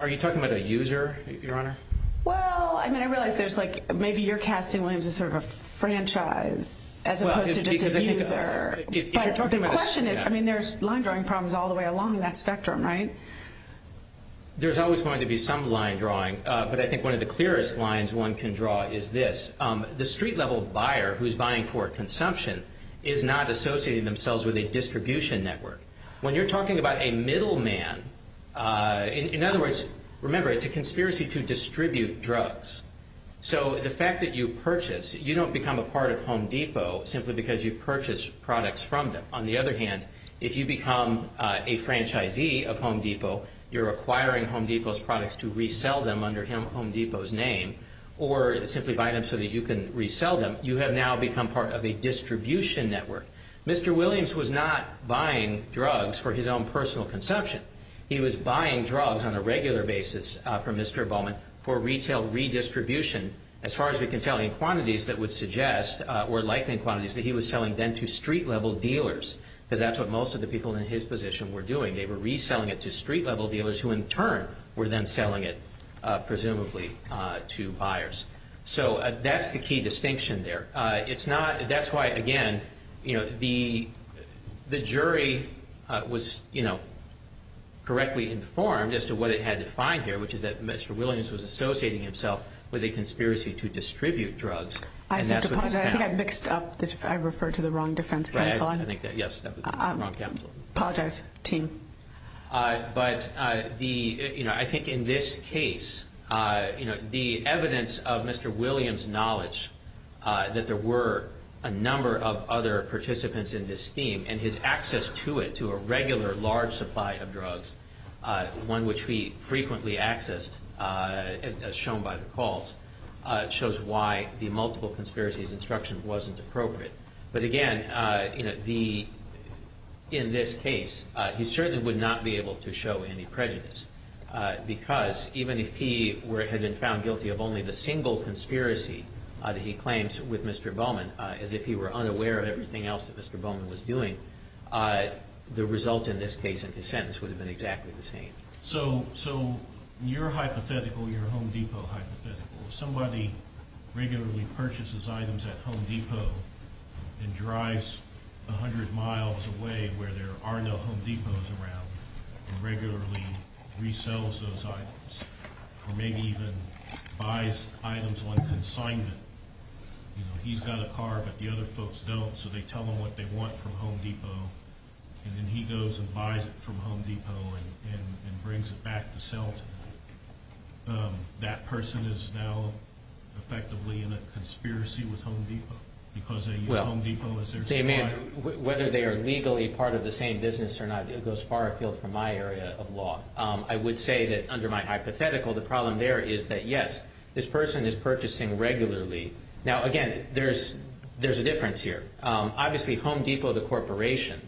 are you talking about a user, Your Honor? Well, I mean, I realize there's like maybe you're casting Williams as sort of a franchise as opposed to just a user. But the question is, I mean, there's line-drawing problems all the way along that spectrum, right? There's always going to be some line-drawing, but I think one of the clearest lines one can draw is this. The street-level buyer who's buying for consumption is not associating themselves with a distribution network. When you're talking about a middleman, in other words, remember, it's a conspiracy to distribute drugs. So the fact that you purchase, you don't become a part of Home Depot simply because you purchase products from them. On the other hand, if you become a franchisee of Home Depot, you're acquiring Home Depot's products to resell them under Home Depot's name or simply buy them so that you can resell them. You have now become part of a distribution network. Mr. Williams was not buying drugs for his own personal consumption. He was buying drugs on a regular basis from Mr. Bowman for retail redistribution, as far as we can tell, in quantities that would suggest or likening quantities that he was selling then to street-level dealers because that's what most of the people in his position were doing. They were reselling it to street-level dealers who, in turn, were then selling it, presumably, to buyers. So that's the key distinction there. That's why, again, the jury was correctly informed as to what it had to find here, which is that Mr. Williams was associating himself with a conspiracy to distribute drugs. I think I mixed up. I referred to the wrong defense counsel. Yes, that was the wrong counsel. Apologize, team. But I think in this case, the evidence of Mr. Williams' knowledge that there were a number of other participants in this team and his access to it, to a regular large supply of drugs, one which he frequently accessed, as shown by the calls, shows why the multiple conspiracies instruction wasn't appropriate. But again, in this case, he certainly would not be able to show any prejudice because even if he had been found guilty of only the single conspiracy that he claims with Mr. Bowman, as if he were unaware of everything else that Mr. Bowman was doing, the result in this case and his sentence would have been exactly the same. So your hypothetical, your Home Depot hypothetical, somebody regularly purchases items at Home Depot and drives 100 miles away where there are no Home Depots around and regularly resells those items or maybe even buys items when consigned to them. He's got a car, but the other folks don't, so they tell him what they want from Home Depot and then he goes and buys it from Home Depot and brings it back to sell to them. That person is now effectively in a conspiracy with Home Depot because Home Depot is their supplier. Whether they are legally part of the same business or not, it goes far afield from my area of law. I would say that under my hypothetical, the problem there is that, yes, this person is purchasing regularly. Now, again, there's a difference here. Obviously, Home Depot, the corporation,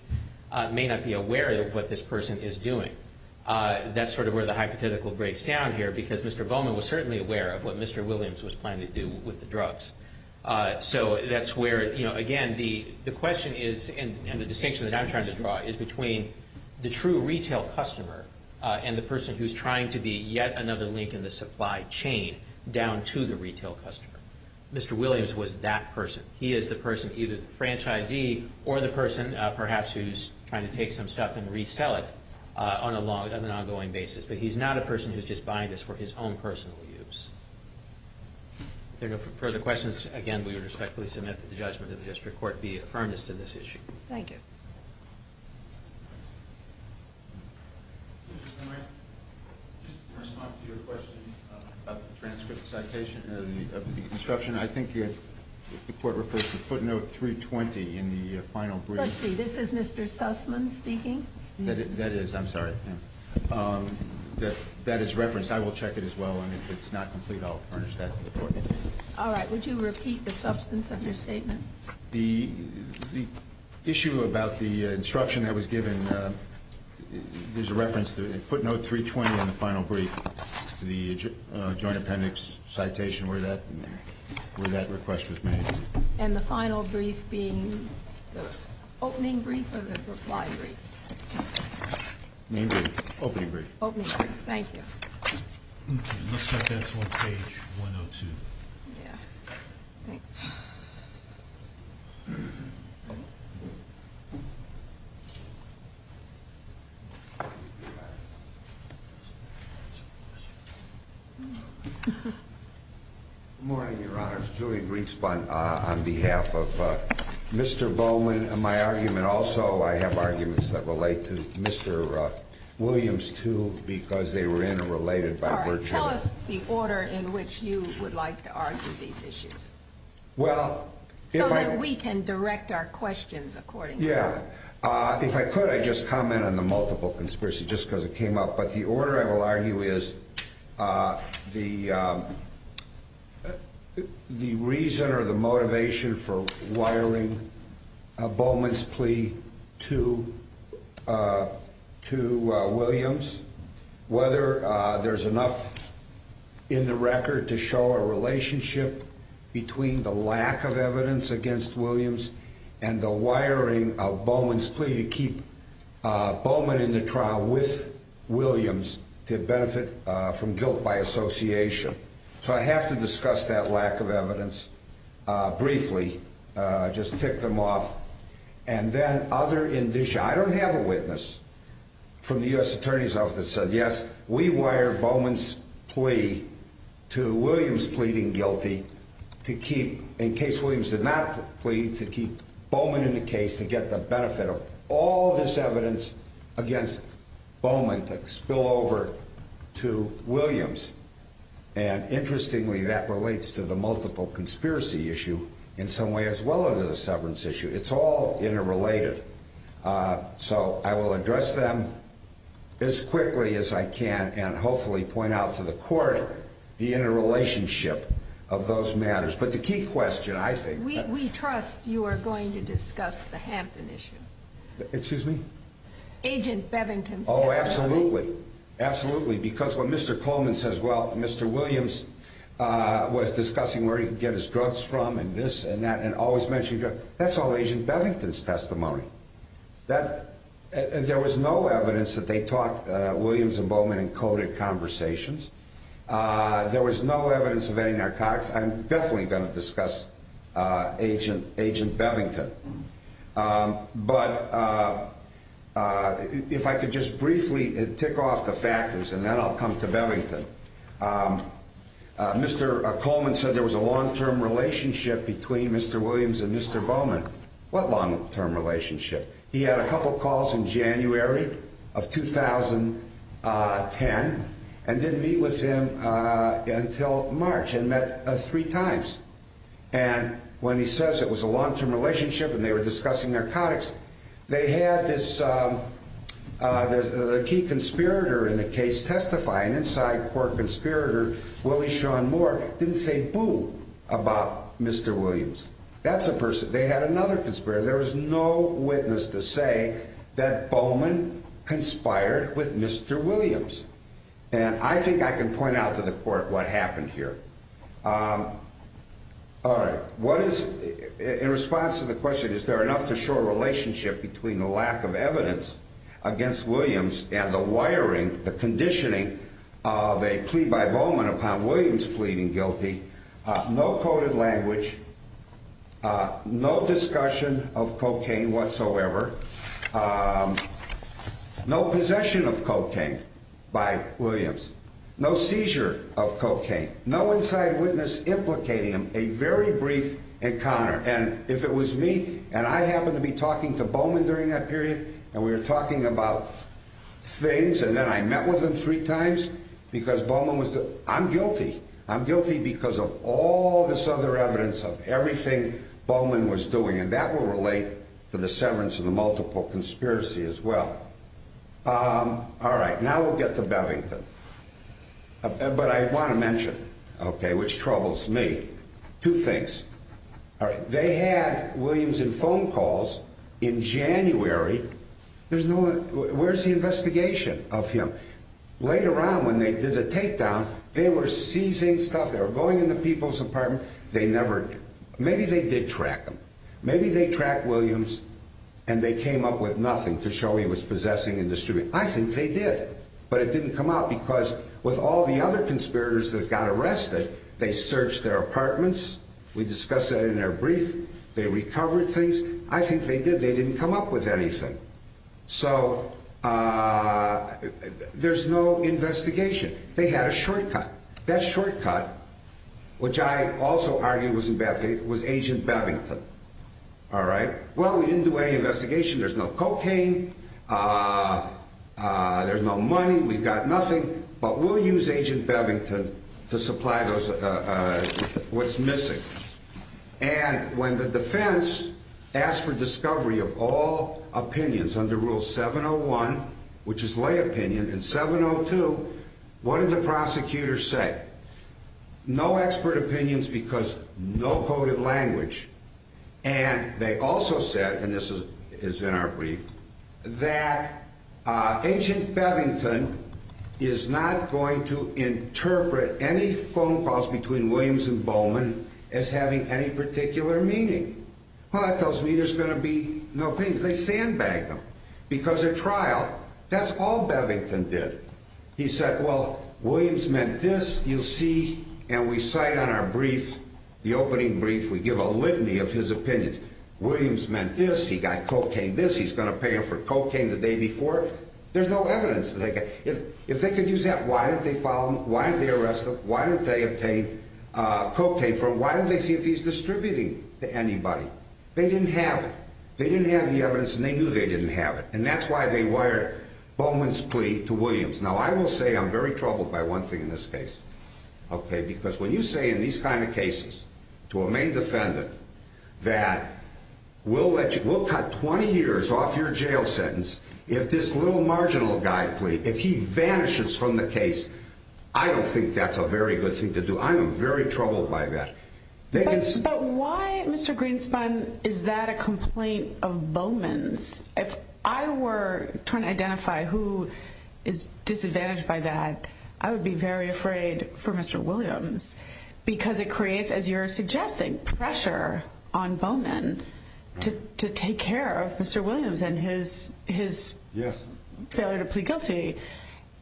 may not be aware of what this person is doing. That's sort of where the hypothetical breaks down here because Mr. Bowman was certainly aware of what Mr. Williams was trying to do with the drugs. That's where, again, the question is, and the distinction that I'm trying to draw, is between the true retail customer and the person who's trying to be yet another link in the supply chain down to the retail customer. Mr. Williams was that person. He is the person, either the franchisee or the person, perhaps, who's trying to take some stuff and resell it on an ongoing basis, but he's not a person who's just buying this for his own personal use. If there are no further questions, again, we respectfully submit that the judgment of the district court be affirmed as to this issue. Thank you. Just to respond to your question about the transfer of the citation and the construction, I think the court referred to footnote 320 in the final brief. Let's see. This is Mr. Sussman speaking. That is. I'm sorry. That is referenced. I will check it as well, and if it's not complete, I'll furnish that. All right. Would you repeat the substance of your statement? The issue about the instruction that was given, there's a reference to footnote 320 in the final brief, to the Joint Appendix citation where that request was made. And the final brief being the opening brief or the supply brief? Opening brief. Thank you. Page 102. Good morning, Your Honors. Julie Griggs on behalf of Mr. Bowman. My argument also, I have arguments that relate to Mr. Williams, too, because they were interrelated by virtue of the order. In which you would like to argue these issues. Well. So that we can direct our questions according to that. Yeah. If I could, I'd just comment on the multiple conspiracy, just because it came up. But the order, I will argue, is the reason or the motivation for wiring Bowman's plea to Williams, whether there's enough in the record to show a relationship between the lack of evidence against Williams and the wiring of Bowman's plea to keep Bowman in the trial with Williams to benefit from guilt by association. So I have to discuss that lack of evidence briefly. Just tick them off. And then other, I don't have a witness from the U.S. Attorney's Office that said, We wire Bowman's plea to Williams pleading guilty to keep, in case Williams did not plead, to keep Bowman in the case to get the benefit of all this evidence against Bowman to spill over to Williams. And interestingly, that relates to the multiple conspiracy issue in some way as well as the severance issue. It's all interrelated. So I will address them as quickly as I can and hopefully point out to the court the interrelationship of those matters. But the key question, I think. We trust you are going to discuss the Hampton issue. Excuse me? Agent Bevington's testimony. Oh, absolutely. Absolutely. Because when Mr. Coleman says, Well, Mr. Williams was discussing where he could get his drugs from and this and that, and always mentioned, That's all Agent Bevington's testimony. And there was no evidence that they talked, Williams and Bowman encoded conversations. There was no evidence of any narcotics. I'm definitely going to discuss Agent Bevington. But if I could just briefly tick off the factors and then I'll come to Bevington. Mr. Coleman said there was a long-term relationship between Mr. Williams and Mr. Bowman. What long-term relationship? He had a couple calls in January of 2010 and didn't meet with him until March and met three times. And when he says it was a long-term relationship and they were discussing narcotics, they had this key conspirator in the case testifying, inside court conspirator Willie Sean Moore, didn't say boo about Mr. Williams. That's a person. They had another conspirator. There was no witness to say that Bowman conspired with Mr. Williams. And I think I can point out to the court what happened here. All right. In response to the question, is there enough to show a relationship between the lack of evidence against Williams and the wiring, the conditioning of a plea by Bowman upon Williams pleading guilty, no coded language, no discussion of cocaine whatsoever, no possession of cocaine by Williams, no seizure of cocaine, no inside witness implicating him, a very brief encounter. And if it was me and I happened to be talking to Bowman during that period and we were talking about things and then I met with him three times because Bowman was there, I'm guilty. I'm guilty because of all this other evidence of everything Bowman was doing. And that will relate to the severance of the multiple conspiracy as well. All right. Now we'll get to Bevington. But I want to mention, okay, which troubles me, two things. All right. They had Williams in phone calls in January. There's no one. Where's the investigation of him? Later on when they did the takedown, they were seizing stuff. They were going in the people's apartment. They never, maybe they did track him. Maybe they tracked Williams and they came up with nothing to show he was possessing and distributing. I think they did. But it didn't come out because with all the other conspirators that got arrested, they searched their apartments. We discussed that in their brief. They recovered things. I think they did. They didn't come up with anything. So there's no investigation. They had a shortcut. That shortcut, which I also argue was agent Bevington. All right. Well, we didn't do any investigation. There's no cocaine. There's no money. We got nothing. But we'll use agent Bevington to supply what's missing. And when the defense asked for discovery of all opinions under rule 701, which is lay opinion, and 702, what did the prosecutors say? No expert opinions because no coded language. And they also said, and this is in our brief, that agent Bevington is not going to interpret any phone calls between Williams and Bowman as having any particular meaning. Well, that tells me there's going to be no things. They sandbagged him because at trial, that's all Bevington did. He said, well, Williams meant this, you see. And we cite on our brief, the opening brief, we give a litany of his opinions. Williams meant this. He got cocaine this. He's going to pay him for cocaine the day before. There's no evidence. If they could use that, why didn't they follow him? Why didn't they arrest him? Why didn't they obtain cocaine from him? Why didn't they see if he's distributing to anybody? They didn't have it. They didn't have the evidence, and they knew they didn't have it. And that's why they wired Bowman's plea to Williams. Now, I will say I'm very troubled by one thing in this case. Okay, because when you say in these kind of cases to a main defendant that we'll cut 20 years off your jail sentence if this little marginal guy pleads, if he vanishes from the case, I don't think that's a very good thing to do. I'm very troubled by that. But why, Mr. Greenspan, is that a complaint of Bowman's? If I were trying to identify who is disadvantaged by that, I would be very afraid for Mr. Williams because it creates, as you're suggesting, pressure on Bowman to take care of Mr. Williams and his failure to plead guilty.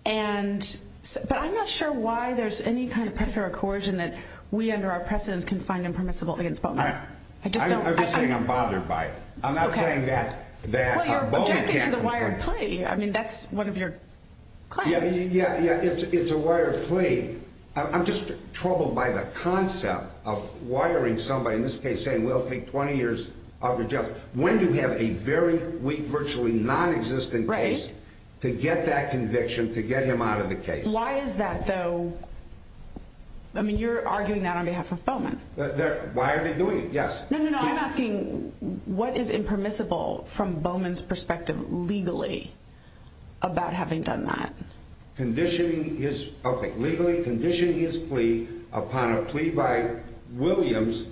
But I'm not sure why there's any kind of pressure or coercion that we under our precedence can find impermissible against Bowman. I'm just saying I'm bothered by it. Okay. I'm not saying that. Well, you're objecting to the wired plea. I mean, that's one of your claims. Yeah, it's a wired plea. I'm just troubled by the concept of wiring somebody, in this case saying we'll take 20 years off your jail, when you have a very weak, virtually nonexistent case to get that conviction, to get him out of the case. Why is that, though? I mean, you're arguing that on behalf of Bowman. Why are they doing it? Yes. No, no, no. I'm asking what is impermissible from Bowman's perspective legally about having done that. Conditioning his – okay, legally conditioning his plea upon a plea by Williams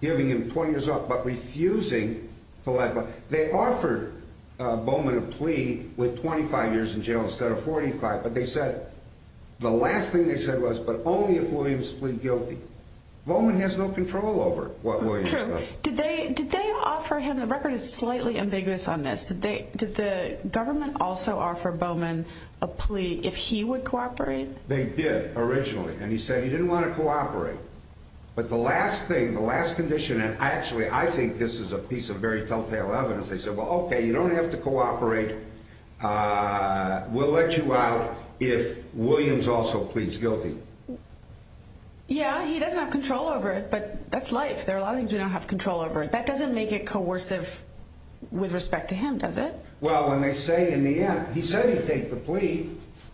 giving him 20 years off but refusing to let – they offered Bowman a plea with 25 years in jail instead of 45. But they said – the last thing they said was, but only if Williams was guilty. Bowman has no control over what Williams does. True. Did they offer him – the record is slightly ambiguous on this. Did the government also offer Bowman a plea if he would cooperate? They did originally, and he said he didn't want to cooperate. But the last thing, the last condition, and actually I think this is a piece of very telltale evidence. They said, well, okay, you don't have to cooperate. We'll let you out if Williams also pleads guilty. Yeah, he doesn't have control over it, but that's life. There are a lot of things you don't have control over. That doesn't make it coercive with respect to him, does it? Well, when they say in the end – he said he'd take the plea.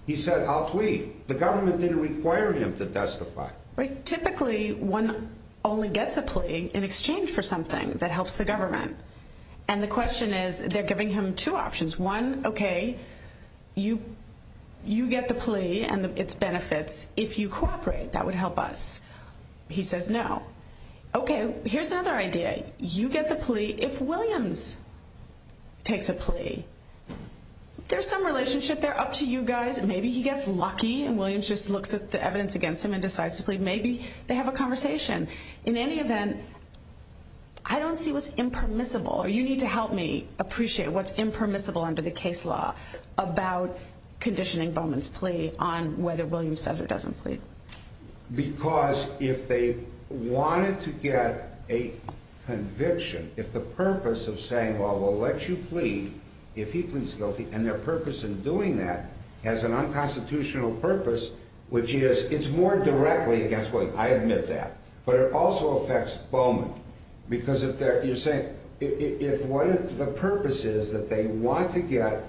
He said, I'll plead. The government didn't require him to testify. Typically, one only gets a plea in exchange for something that helps the government. And the question is they're giving him two options. One, okay, you get the plea and its benefits if you cooperate. That would help us. He says no. Okay, here's another idea. You get the plea if Williams takes a plea. There's some relationship there. Up to you guys. Maybe he gets lucky and Williams just looks at the evidence against him and decides to plead. Maybe they have a conversation. In any event, I don't see what's impermissible. You need to help me appreciate what's impermissible under the case law about conditioning Bowman's plea on whether Williams does or doesn't plead. Because if they wanted to get a conviction, if the purpose of saying, well, we'll let you plead if he consults you, and their purpose in doing that has an unconstitutional purpose, which is it's more directly against Bowman. I admit that. But it also affects Bowman. Because you're saying if the purpose is that they want to get,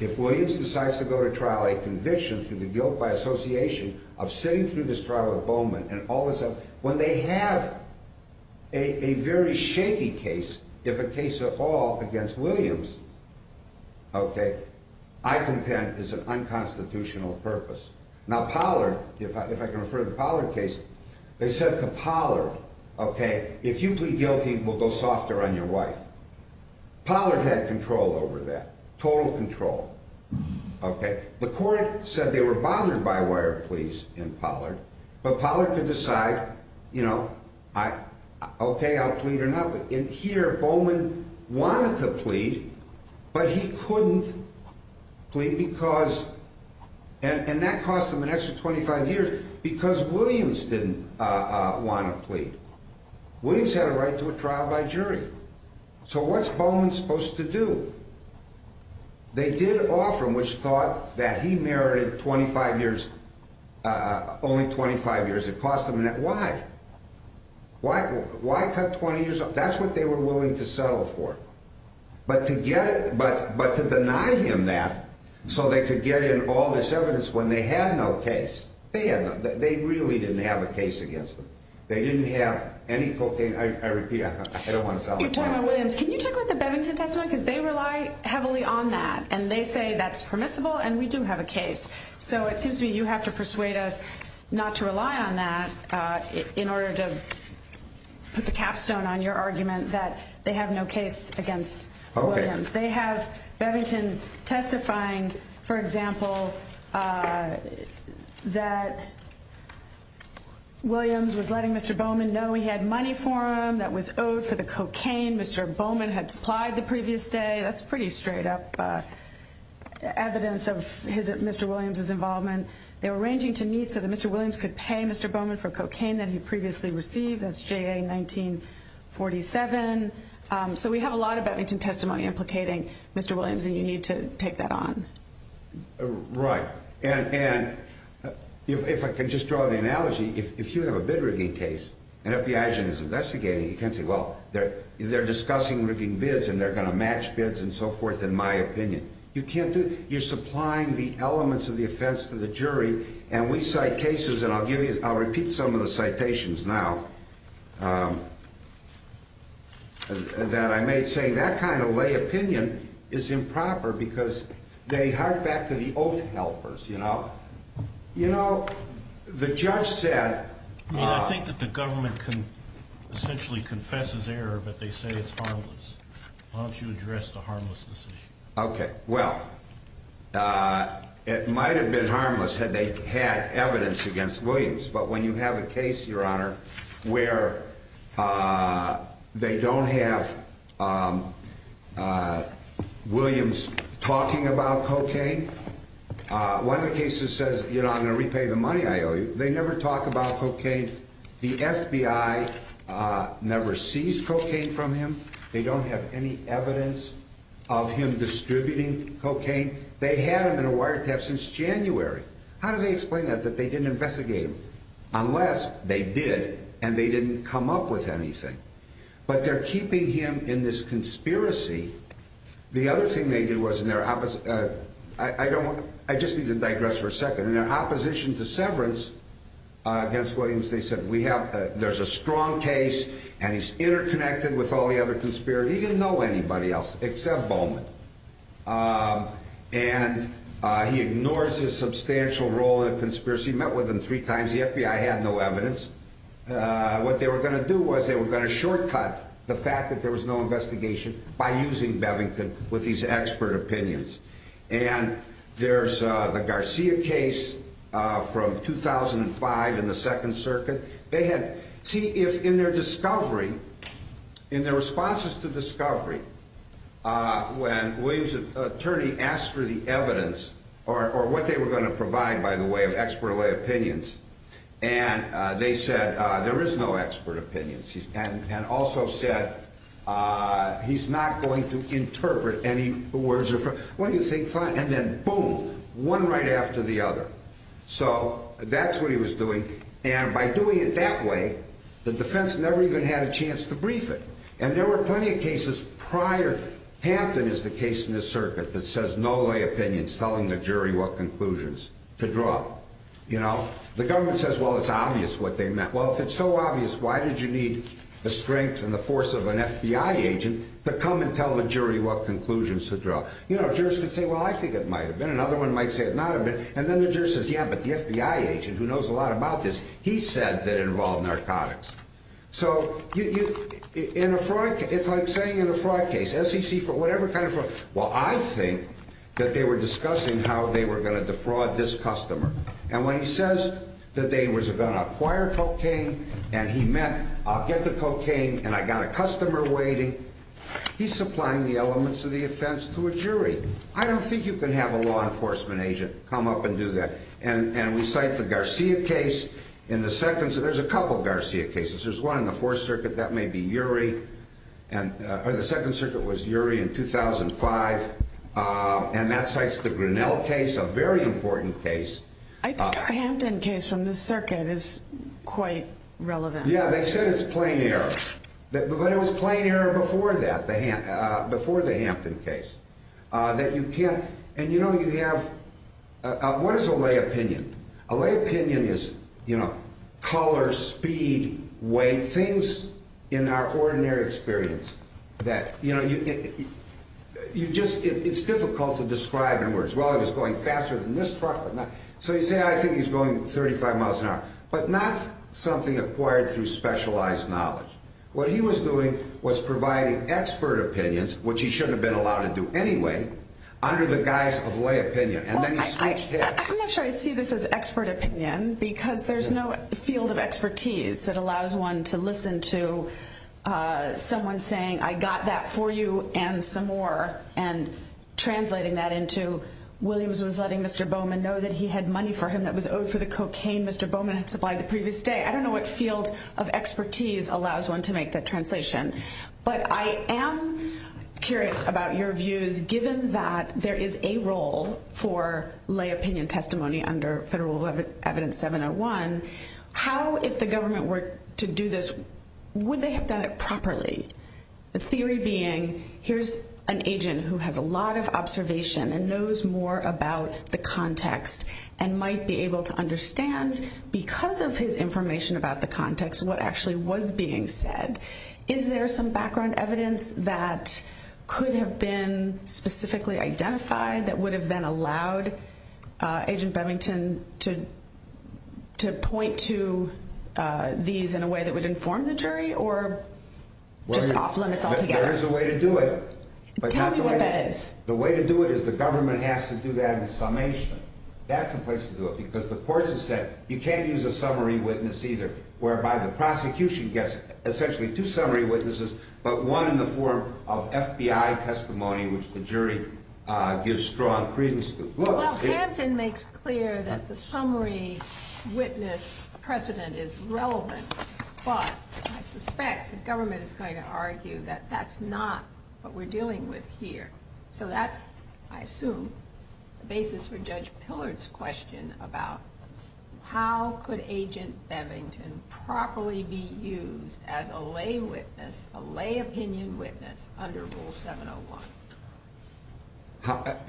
if Williams decides to go to trial, a conviction to be built by association of sitting through this trial of Bowman and all this stuff, when they have a very shaky case, if a case at all, against Williams, I contend it's an unconstitutional purpose. Now Pollard, if I can refer to the Pollard case, they said to Pollard, if you plead guilty, we'll go softer on your wife. Pollard had control over that, total control. The court said they were bothered by a wire of pleas in Pollard, but Pollard could decide, okay, I'll plead or not. In here, Bowman wanted to plead, but he couldn't plead because, and that cost him an extra 25 years because Williams didn't want to plead. Williams had a right to a trial by jury. So what's Bowman supposed to do? They did offer him which thought that he merited 25 years, only 25 years. It cost him that. Why? Why cut 20 years off? That's what they were willing to settle for. But to deny him that so they could get in all this evidence when they had no case, they really didn't have a case against them. They didn't have any cocaine. I repeat, I don't want to sell the case. You're talking about Williams. Can you check with the Bevington testimony because they rely heavily on that, and they say that's permissible and we do have a case. So it seems to me you have to persuade us not to rely on that in order to put the case against Williams. They have Bevington testifying, for example, that Williams was letting Mr. Bowman know he had money for him that was owed for the cocaine Mr. Bowman had supplied the previous day. That's pretty straight up evidence of Mr. Williams' involvement. They're arranging to meet so that Mr. Williams could pay Mr. Bowman for cocaine that he previously received. That's JA-1947. So we have a lot of Bevington testimony implicating Mr. Williams, and you need to take that on. Right. And if I can just draw the analogy, if you have a bid-rigging case and FBI agent is investigating, you can't say, well, they're discussing rigging bids and they're going to match bids and so forth in my opinion. You can't do that. You're supplying the elements of the offense to the jury, and we cite cases, and I'll repeat some of the citations now. And then I may say that kind of lay opinion is improper because they hark back to the old helpers, you know. You know, the judge said. Well, I think that the government can essentially confess his error, but they say it's harmless. Why don't you address the harmlessness issue? Okay. Well, it might have been harmless had they had evidence against Williams, but when you have a case, Your Honor, where they don't have Williams talking about cocaine, one of the cases says, you know, I'm going to repay the money I owe you. They never talk about cocaine. The FBI never sees cocaine from him. They don't have any evidence of him distributing cocaine. They have him in a wiretap since January. How do they explain that, that they didn't investigate him? Unless they did and they didn't come up with anything. But they're keeping him in this conspiracy. The other thing they did was in their opposite. I just need to digress for a second. In their opposition to severance against Williams, they said there's a strong case, and he's interconnected with all the other conspirators. He didn't know anybody else except Bowman. And he ignores his substantial role in the conspiracy. He met with him three times. The FBI had no evidence. What they were going to do was they were going to shortcut the fact that there was no investigation by using Bevington with these expert opinions. And there's the Garcia case from 2005 in the Second Circuit. See if in their discovery, in their responses to discovery, when Williams' attorney asked for the evidence, or what they were going to provide, by the way, with expert opinions, and they said there is no expert opinions. And also said he's not going to interpret any words. What do you think? Fine. And then boom, one right after the other. So that's what he was doing. And by doing it that way, the defense never even had a chance to brief it. And there were plenty of cases prior. Hampton is the case in this circuit that says no lay opinions, telling the jury what conclusions to draw. You know, the government says, well, it's obvious what they meant. Well, if it's so obvious, why did you need the strength and the force of an FBI agent to come and tell the jury what conclusions to draw? You know, jurists would say, well, I think it might have been. Another one might say it might have been. And then the jurist says, yeah, but the FBI agent who knows a lot about this, he said they're involved in narcotics. So it's like saying in a fraud case, SEC for whatever kind of fraud, well, I think that they were discussing how they were going to defraud this customer. And when he says that they was going to acquire cocaine and he meant I'll get the cocaine and I've got a customer waiting, he's supplying the elements of the offense to a jury. I don't think you can have a law enforcement agent come up and do that. And we cite the Garcia case in the second. So there's a couple of Garcia cases. There's one in the Fourth Circuit that may be Urey. The Second Circuit was Urey in 2005. And that cites the Grinnell case, a very important case. I think the Hampton case from the circuit is quite relevant. Yeah, they said it's plain error. But it was plain error before that, before the Hampton case. And, you know, you have, what is a lay opinion? A lay opinion is, you know, color, speed, weight, things in our ordinary experience that, you know, it's difficult to describe in words. Well, he was going faster than this truck. So you say, I think he's going 35 miles an hour. But not something acquired through specialized knowledge. What he was doing was providing expert opinions, which he shouldn't have been allowed to do anyway, under the guise of lay opinion. I'm not sure I see this as expert opinion, because there's no field of expertise that allows one to listen to someone saying, I got that for you and some more, and translating that into Williams was letting Mr. Bowman know that he had money for him that was owed for the cocaine Mr. Bowman had supplied the previous day. I don't know what field of expertise allows one to make that translation. But I am curious about your views, given that there is a role for lay opinion testimony under federal evidence 701, how, if the government were to do this, would they have done it properly? The theory being, here's an agent who has a lot of observation and knows more about the context and might be able to understand, because of his information about the context, what actually was being said. Is there some background evidence that could have been specifically identified that would have then allowed Agent Bevington to point to these in a way that would inform the jury or just off limits altogether? There is a way to do it. Tell me what it is. The way to do it is the government has to do that in summation. That's the place to do it, because the court has said, you can't use a summary witness either, whereby the prosecution gets essentially two summary witnesses, but one in the form of FBI testimony, which the jury gives strong credence to. Well, Hanson makes clear that the summary witness precedent is relevant, but I suspect the government is going to argue that that's not what we're dealing with here. So that, I assume, raises for Judge Pillard's question about how could Agent Bevington properly be used as a lay witness, a lay opinion witness under Rule 701?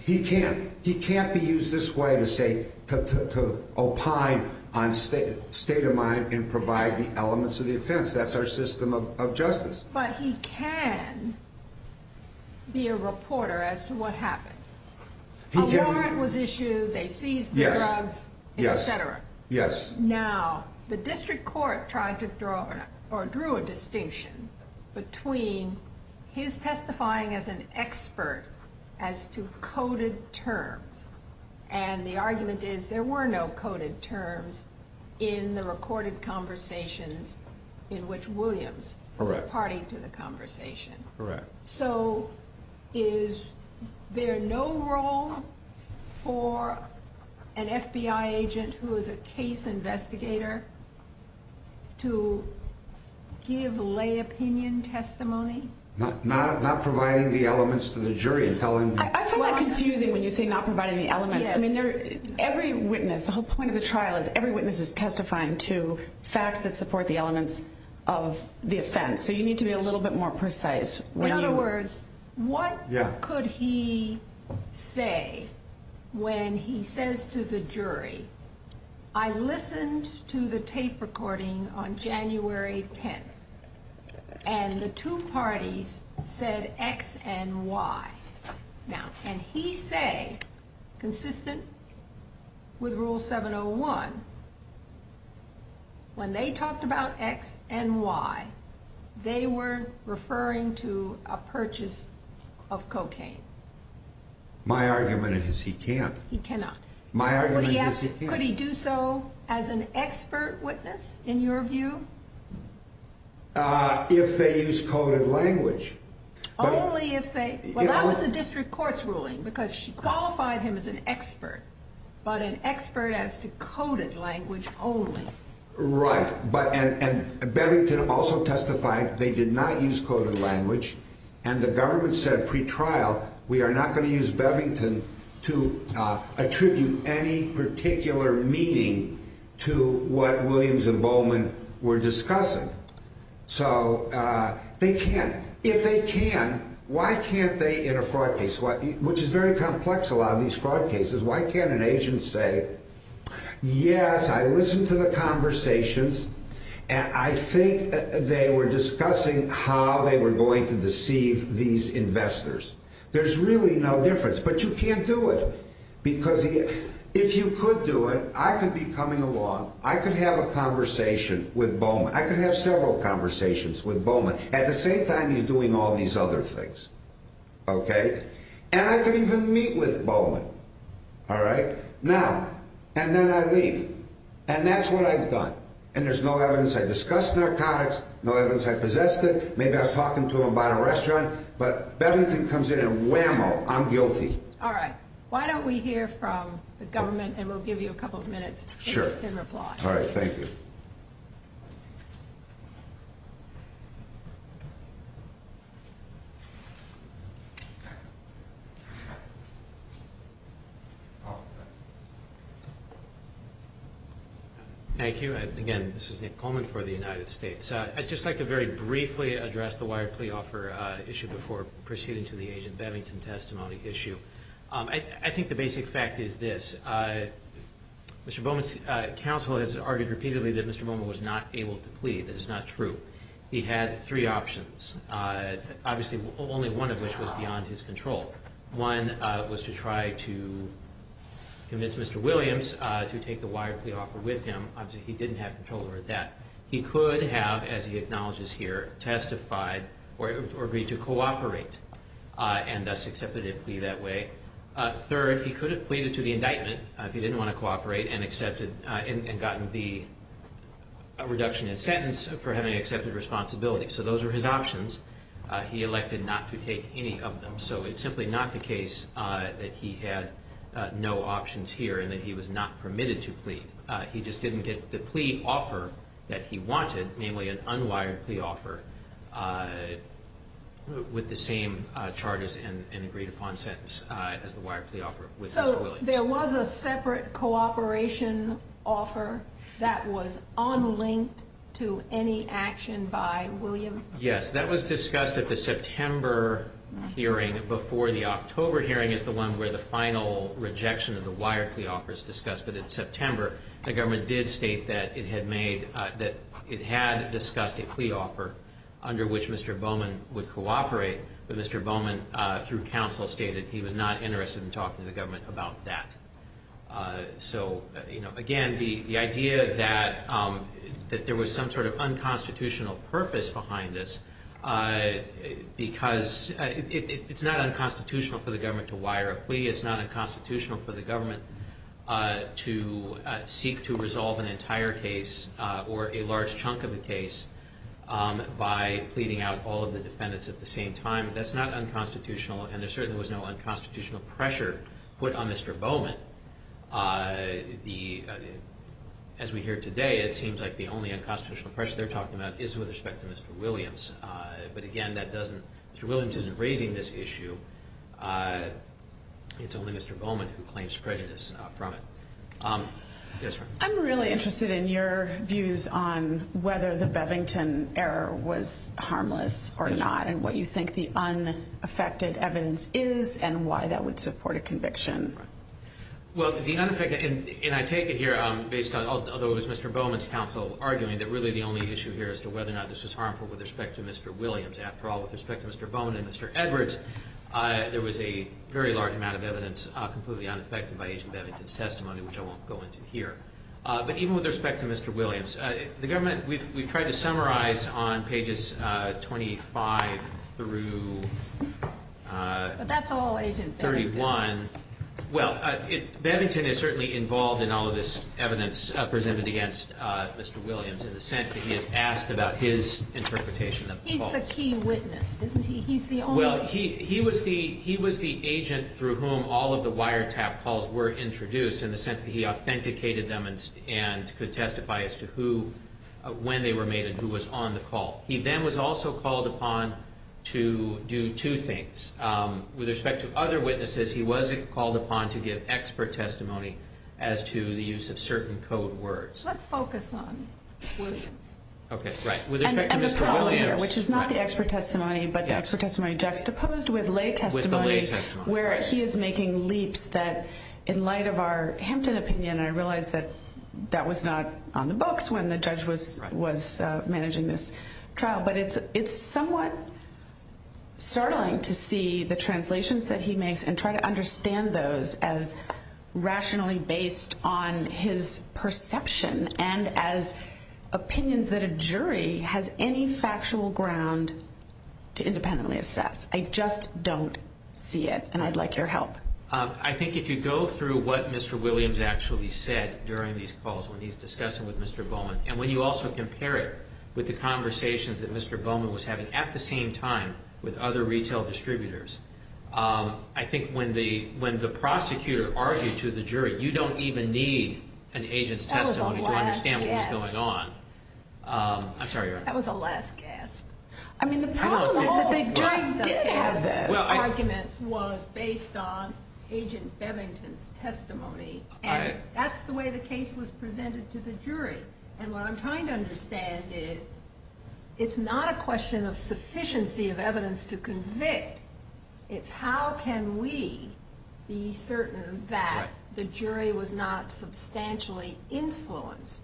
He can't. He can't be used this way to say, to opine on state of mind and provide the elements of the offense. That's our system of justice. But he can be a reporter as to what happened. A warrant was issued, they seized drugs, et cetera. Now, the district court tried to draw or drew a distinction between his testifying as an expert as to coded terms, and the argument is there were no coded terms in the recorded conversations in which Williams was parting to the conversation. Correct. So is there no role for an FBI agent who is a case investigator to give lay opinion testimony? Not providing the elements to the jury. I'm confused when you say not providing the elements. Every witness, the whole point of the trial is every witness is testifying to facts that support the elements of the offense. So you need to be a little bit more precise. In other words, what could he say when he says to the jury, I listened to the tape recording on January 10th, and the two parties said X and Y. Now, can he say, consistent with Rule 701, when they talked about X and Y, they were referring to a purchase of cocaine? My argument is he can't. He cannot. My argument is he can't. Yes, could he do so as an expert witness in your view? If they use coded language. Well, that was a district court's ruling because she qualified him as an expert, but an expert as to coded language only. Right. And Bevington also testified they did not use coded language, and the government said pretrial, we are not going to use Bevington to attribute any particular meaning to what Williams and Bowman were discussing. So they can't. If they can, why can't they in a fraud case, which is very complex, a lot of these fraud cases, why can't an agent say, yes, I listened to the conversations, and I think they were discussing how they were going to deceive these investors. There's really no difference. But you can't do it because if you could do it, I could be coming along. I could have a conversation with Bowman. I could have several conversations with Bowman. At the same time, he's doing all these other things. Okay? And I could even meet with Bowman. All right? Now, and then I leave. And that's what I've done. And there's no evidence. I discussed narcotics. No evidence I possessed it. Maybe I was talking to him about a restaurant. But Bevington comes in and, wow, I'm guilty. All right. Why don't we hear from the government, and we'll give you a couple of minutes. Sure. Give us an applause. All right, thank you. Thank you. Again, this is Nick Coleman for the United States. I'd just like to very briefly address the wire plea offer issue before proceeding to the agent Bevington testimony issue. I think the basic fact is this. Mr. Bowman's counsel has argued repeatedly that Mr. Bowman was not able to plead. That is not true. He had three options, obviously only one of which was beyond his control. One was to try to convince Mr. Williams to take the wire plea offer with him. Obviously, he didn't have control over that. He could have, as he acknowledges here, testified or agreed to cooperate and thus accepted a plea that way. Third, he could have pleaded to the indictment if he didn't want to cooperate and gotten the reduction in sentence for having accepted responsibility. So those are his options. He elected not to take any of them. So it's simply not the case that he had no options here and that he was not permitted to plead. He just didn't get the plea offer that he wanted, namely an unwired plea offer, with the same charges and agreed-upon sentence as the wired plea offer with Mr. Williams. There was a separate cooperation offer that was unlinked to any action by Williams? Yes, that was discussed at the September hearing before the October hearing is the one where the final rejection of the wired plea offer is discussed. But in September, the government did state that it had discussed a plea offer under which Mr. Bowman would cooperate. But Mr. Bowman, through counsel, stated he was not interested in talking to the government about that. So again, the idea that there was some sort of unconstitutional purpose behind this, because it's not unconstitutional for the government to wire a plea. It's not unconstitutional for the government to seek to resolve an entire case or a large chunk of the case by pleading out all of the defendants at the same time. That's not unconstitutional, and there certainly was no unconstitutional pressure put on Mr. Bowman. As we hear today, it seems like the only unconstitutional pressure they're talking about is with respect to Mr. Williams. But again, Mr. Williams isn't raising this issue. It's only Mr. Bowman who claims prejudice from it. I'm really interested in your views on whether the Bevington error was harmless or not and what you think the unaffected evidence is and why that would support a conviction. Well, the unaffected, and I take it here based on, although it was Mr. Bowman's counsel arguing, that really the only issue here is whether or not this was harmful with respect to Mr. Williams. After all, with respect to Mr. Bowman and Mr. Edwards, there was a very large amount of evidence completely unaffected by Agent Bennington's testimony, which I won't go into here. But even with respect to Mr. Williams, the government, we tried to summarize on pages 25 through 31. Well, Bennington is certainly involved in all of this evidence presented against Mr. Williams in the sense that he has asked about his interpretation of the policy. He's the key witness, isn't he? Well, he was the agent through whom all of the wiretap calls were introduced in the sense that he authenticated them and could testify as to when they were made and who was on the call. He then was also called upon to do two things. With respect to other witnesses, he was called upon to give expert testimony as to the use of certain code words. Let's focus on Williams. And the problem here, which is not the expert testimony, but the expert testimony juxtaposed with lay testimony, where he is making leaps that in light of our Hampton opinion, and I realize that that was not on the books when the judge was managing this trial, but it's somewhat startling to see the translations that he makes and try to understand those as rationally based on his perception and as opinions that a jury has any factual ground to independently assess. I just don't see it, and I'd like your help. I think if you go through what Mr. Williams actually said during these calls when he's discussing with Mr. Bowman and when you also compare it with the conversations that Mr. Bowman was having at the same time with other retail distributors, I think when the prosecutor argued to the jury, you don't even need an agent's testimony to understand what's going on. That was a last gasp. I'm sorry, Your Honor. That was a last gasp. I mean, the problem was that they did have those arguments was based on Agent Bevington's testimony, and that's the way the case was presented to the jury. And what I'm trying to understand is it's not a question of sufficiency of evidence to convict. It's how can we be certain that the jury was not substantially influenced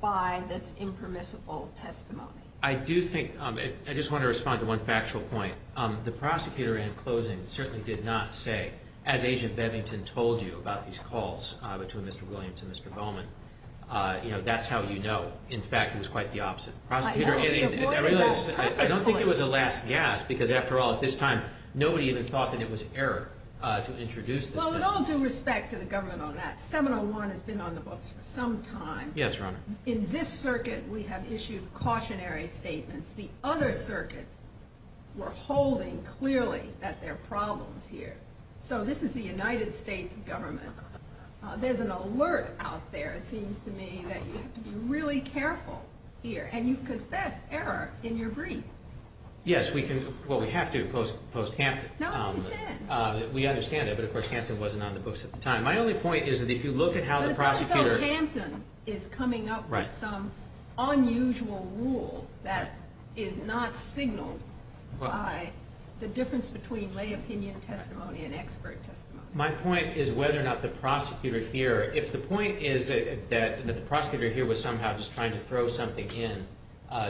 by this impermissible testimony. I do think I just want to respond to one factual point. The prosecutor in closing certainly did not say, as Agent Bevington told you about these calls between Mr. Williams and Mr. Bowman, you know, that's how you know. In fact, it was quite the opposite. I don't think it was a last gasp because, after all, at this time, nobody even thought that it was an error to introduce this. Well, with all due respect to the government on that, 701 has been on the books for some time. Yes, Your Honor. In this circuit, we have issued cautionary statements. The other circuits were holding clearly that there are problems here. So this is the United States government. There's an alert out there, it seems to me, that you have to be really careful here. And you've confessed error in your brief. Yes, we can – well, we have to post Hampton. No, we did. We understand that. But, of course, Hampton wasn't on the books at the time. My only point is that if you look at how the prosecutor – But it's not as though Hampton is coming up with some unusual rule that is not signaled by the difference between lay opinion testimony and expert testimony. My point is whether or not the prosecutor here – if the point is that the prosecutor here was somehow just trying to throw something in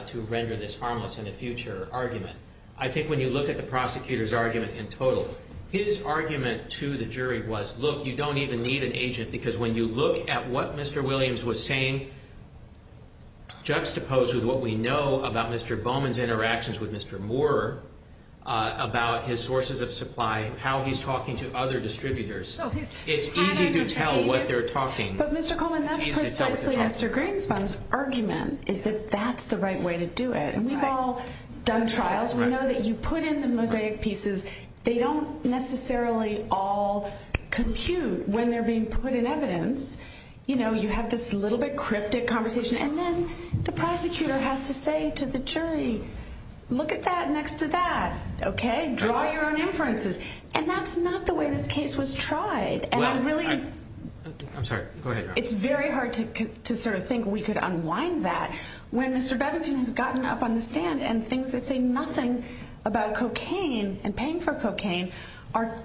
to render this harmless in a future argument, I think when you look at the prosecutor's argument in total, his argument to the jury was, look, you don't even need an agent because when you look at what Mr. Williams was saying, juxtaposed with what we know about Mr. Bowman's interactions with Mr. Moore, about his sources of supply, how he's talking to other distributors, it's easy to tell what they're talking. But, Mr. Coleman, that's precisely Mr. Greenstein's argument is that that's the right way to do it. And we've all done trials. We know that you put in some mosaic pieces. They don't necessarily all compute when they're being put in evidence. You know, you have this little bit cryptic conversation. And then the prosecutor has to say to the jury, look at that next to that. Okay? Draw your own inferences. And that's not the way this case was tried. And it really – I'm sorry. Go ahead. It's very hard to sort of think we could unwind that. When Mr. Babichan has gotten up on the stand and thinks that say nothing about cocaine and paying for cocaine are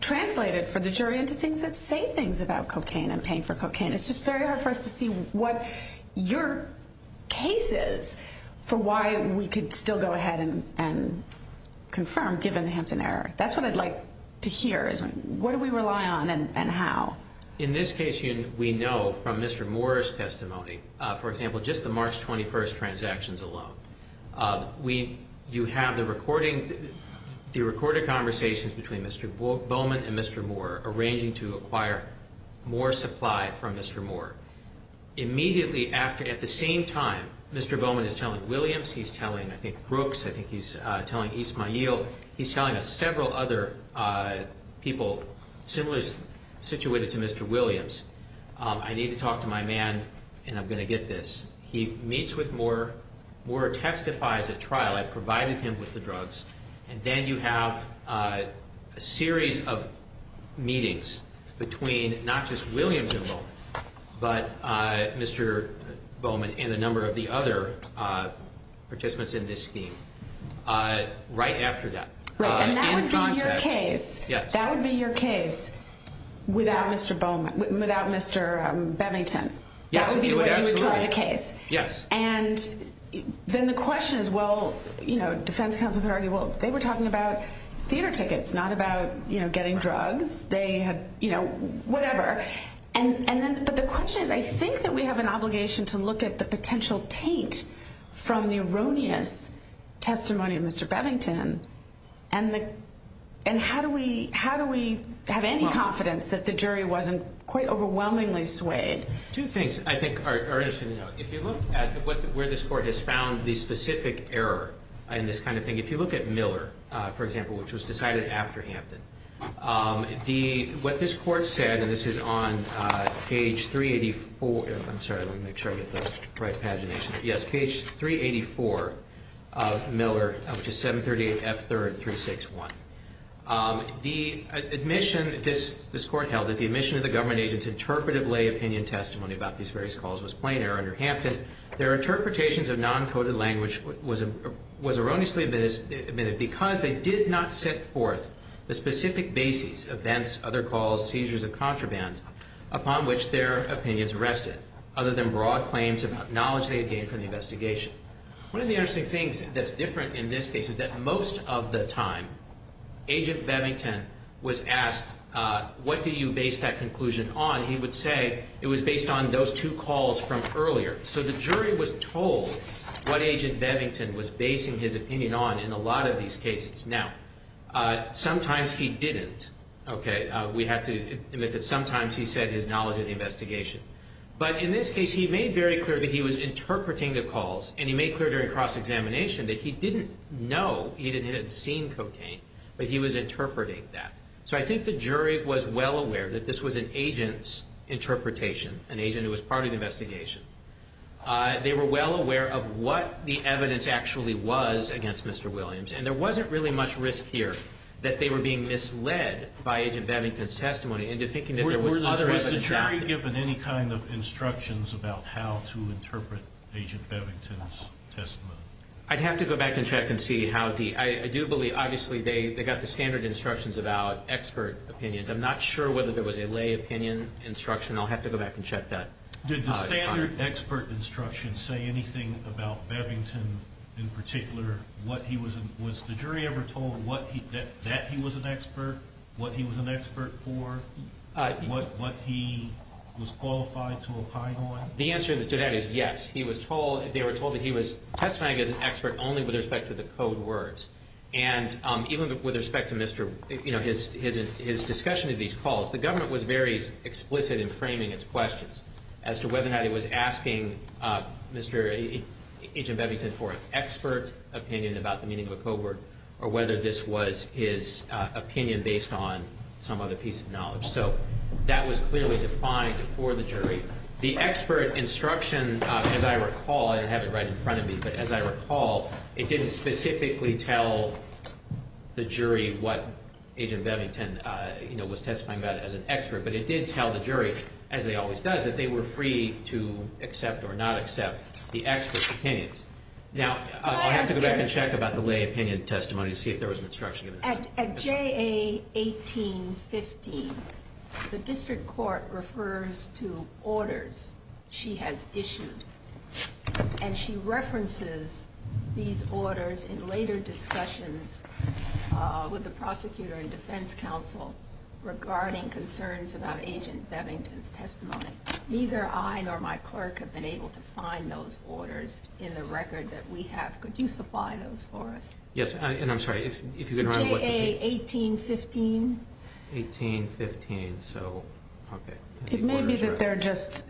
translated for the jury into things that say things about cocaine and paying for cocaine. It's just very hard for us to see what your case is for why we could still go ahead and confirm, given the hints and errors. That's what I'd like to hear is what do we rely on and how? In this case, we know from Mr. Moore's testimony, for example, just the March 21st transactions alone, you have the recorded conversations between Mr. Bowman and Mr. Moore, arranging to acquire more supply from Mr. Moore. Immediately after, at the same time, Mr. Bowman is telling Williams, he's telling I think Brooks, I think he's telling Ismael, he's telling several other people similar situations to Mr. Williams, I need to talk to my man and I'm going to get this. He meets with Moore, Moore testifies at trial, I've provided him with the drugs, and then you have a series of meetings between not just Williams himself, but Mr. Bowman and a number of the other participants in this scheme right after that. And that would be your case. Yes. That would be your case without Mr. Bowman, without Mr. Babichan. That would be the case. Yes. And then the question is, well, you know, defense counsel could argue, well, they were talking about theater tickets, not about, you know, getting drugs. They had, you know, whatever. But the question is, I think that we have an obligation to look at the potential paint from the erroneous testimony of Mr. Bevington, and how do we have any confidence that the jury wasn't quite overwhelmingly swayed? Two things I think are interesting to note. If you look at where this court has found the specific error in this kind of thing, if you look at Miller, for example, which was decided after Hampton, what this court said, and this is on page 384, I'm sorry, let me make sure I get the right pagination. Yes. Page 384 of Miller, which is 738F3361. The admission this court held, that the admission of the government agent's interpretive lay opinion testimony about these various calls was plain error under Hampton. Their interpretations of non-coded language was erroneously admitted because they did not set forth the specific basis of events, other calls, seizures of contraband upon which their opinions rested, other than broad claims of acknowledging a gain from the investigation. One of the interesting things that's different in this case is that most of the time, Agent Bevington was asked, what do you base that conclusion on? He would say it was based on those two calls from earlier. So the jury was told what Agent Bevington was basing his opinion on in a lot of these cases. Now, sometimes he didn't. Okay, we have to admit that sometimes he said he acknowledged the investigation. But in this case, he made very clear that he was interpreting the calls, and he made clear during cross-examination that he didn't know Eden had seen cocaine, but he was interpreting that. So I think the jury was well aware that this was an agent's interpretation, an agent who was part of the investigation. They were well aware of what the evidence actually was against Mr. Williams, and there wasn't really much risk here that they were being misled by Agent Bevington's testimony Were the jury given any kind of instructions about how to interpret Agent Bevington's testimony? I'd have to go back and check and see. I do believe, obviously, they got the standard instructions about expert opinions. I'm not sure whether there was a lay opinion instruction. I'll have to go back and check that. Did the standard expert instructions say anything about Bevington in particular? Was the jury ever told that he was an expert, what he was an expert for, what he was qualified to opine on? The answer to that is yes. They were told that he was testified as an expert only with respect to the code words. And even with respect to his discussion of these calls, the government was very explicit in framing his questions as to whether or not he was asking Agent Bevington for an expert opinion about the meaning of a code word or whether this was his opinion based on some other piece of knowledge. So that was clearly defined for the jury. The expert instruction, as I recall, and I have it right in front of me, but as I recall, it didn't specifically tell the jury what Agent Bevington was testifying about as an expert, but it did tell the jury, as it always does, that they were free to accept or not accept the expert's opinions. Now, I'll have to go back and check about the lay opinion testimony to see if there was an instruction. At JA 1815, the district court refers to orders she has issued, and she references these orders in later discussions with the prosecutor and defense counsel regarding concerns about Agent Bevington's testimony. Neither I nor my clerk have been able to find those orders in the record that we have. Could you supply those for us? Yes, and I'm sorry, if you could remind me what the date is. JA 1815. 1815, so, okay. It may be that they're just,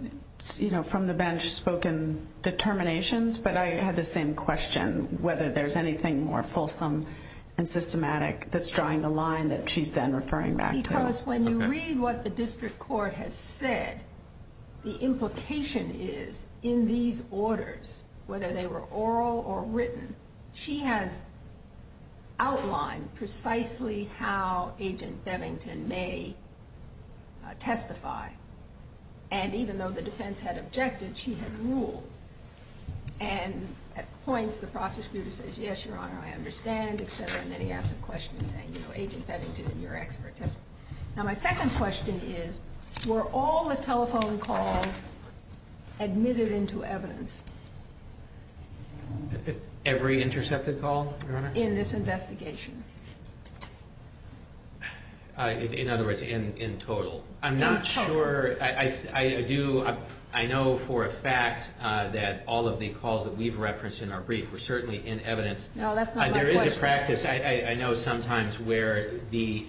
you know, from the bench-spoken determinations, but I had the same question, whether there's anything more fulsome and systematic that's drawing the line that she's then referring back to. Can you tell us, when you read what the district court has said, the implication is in these orders, whether they were oral or written, she has outlined precisely how Agent Bevington may testify, and even though the defense had objected, she had ruled, and at points, the prosecutor says, yes, Your Honor, I understand, and then he asks a question saying, well, Agent Bevington, you're an expert. Now, my second question is, were all the telephone calls admitted into evidence? Every intercepted call, Your Honor? In this investigation. In other words, in total. I'm not sure. I know for a fact that all of the calls that we've referenced in our brief were certainly in evidence. There is a practice, I know, sometimes where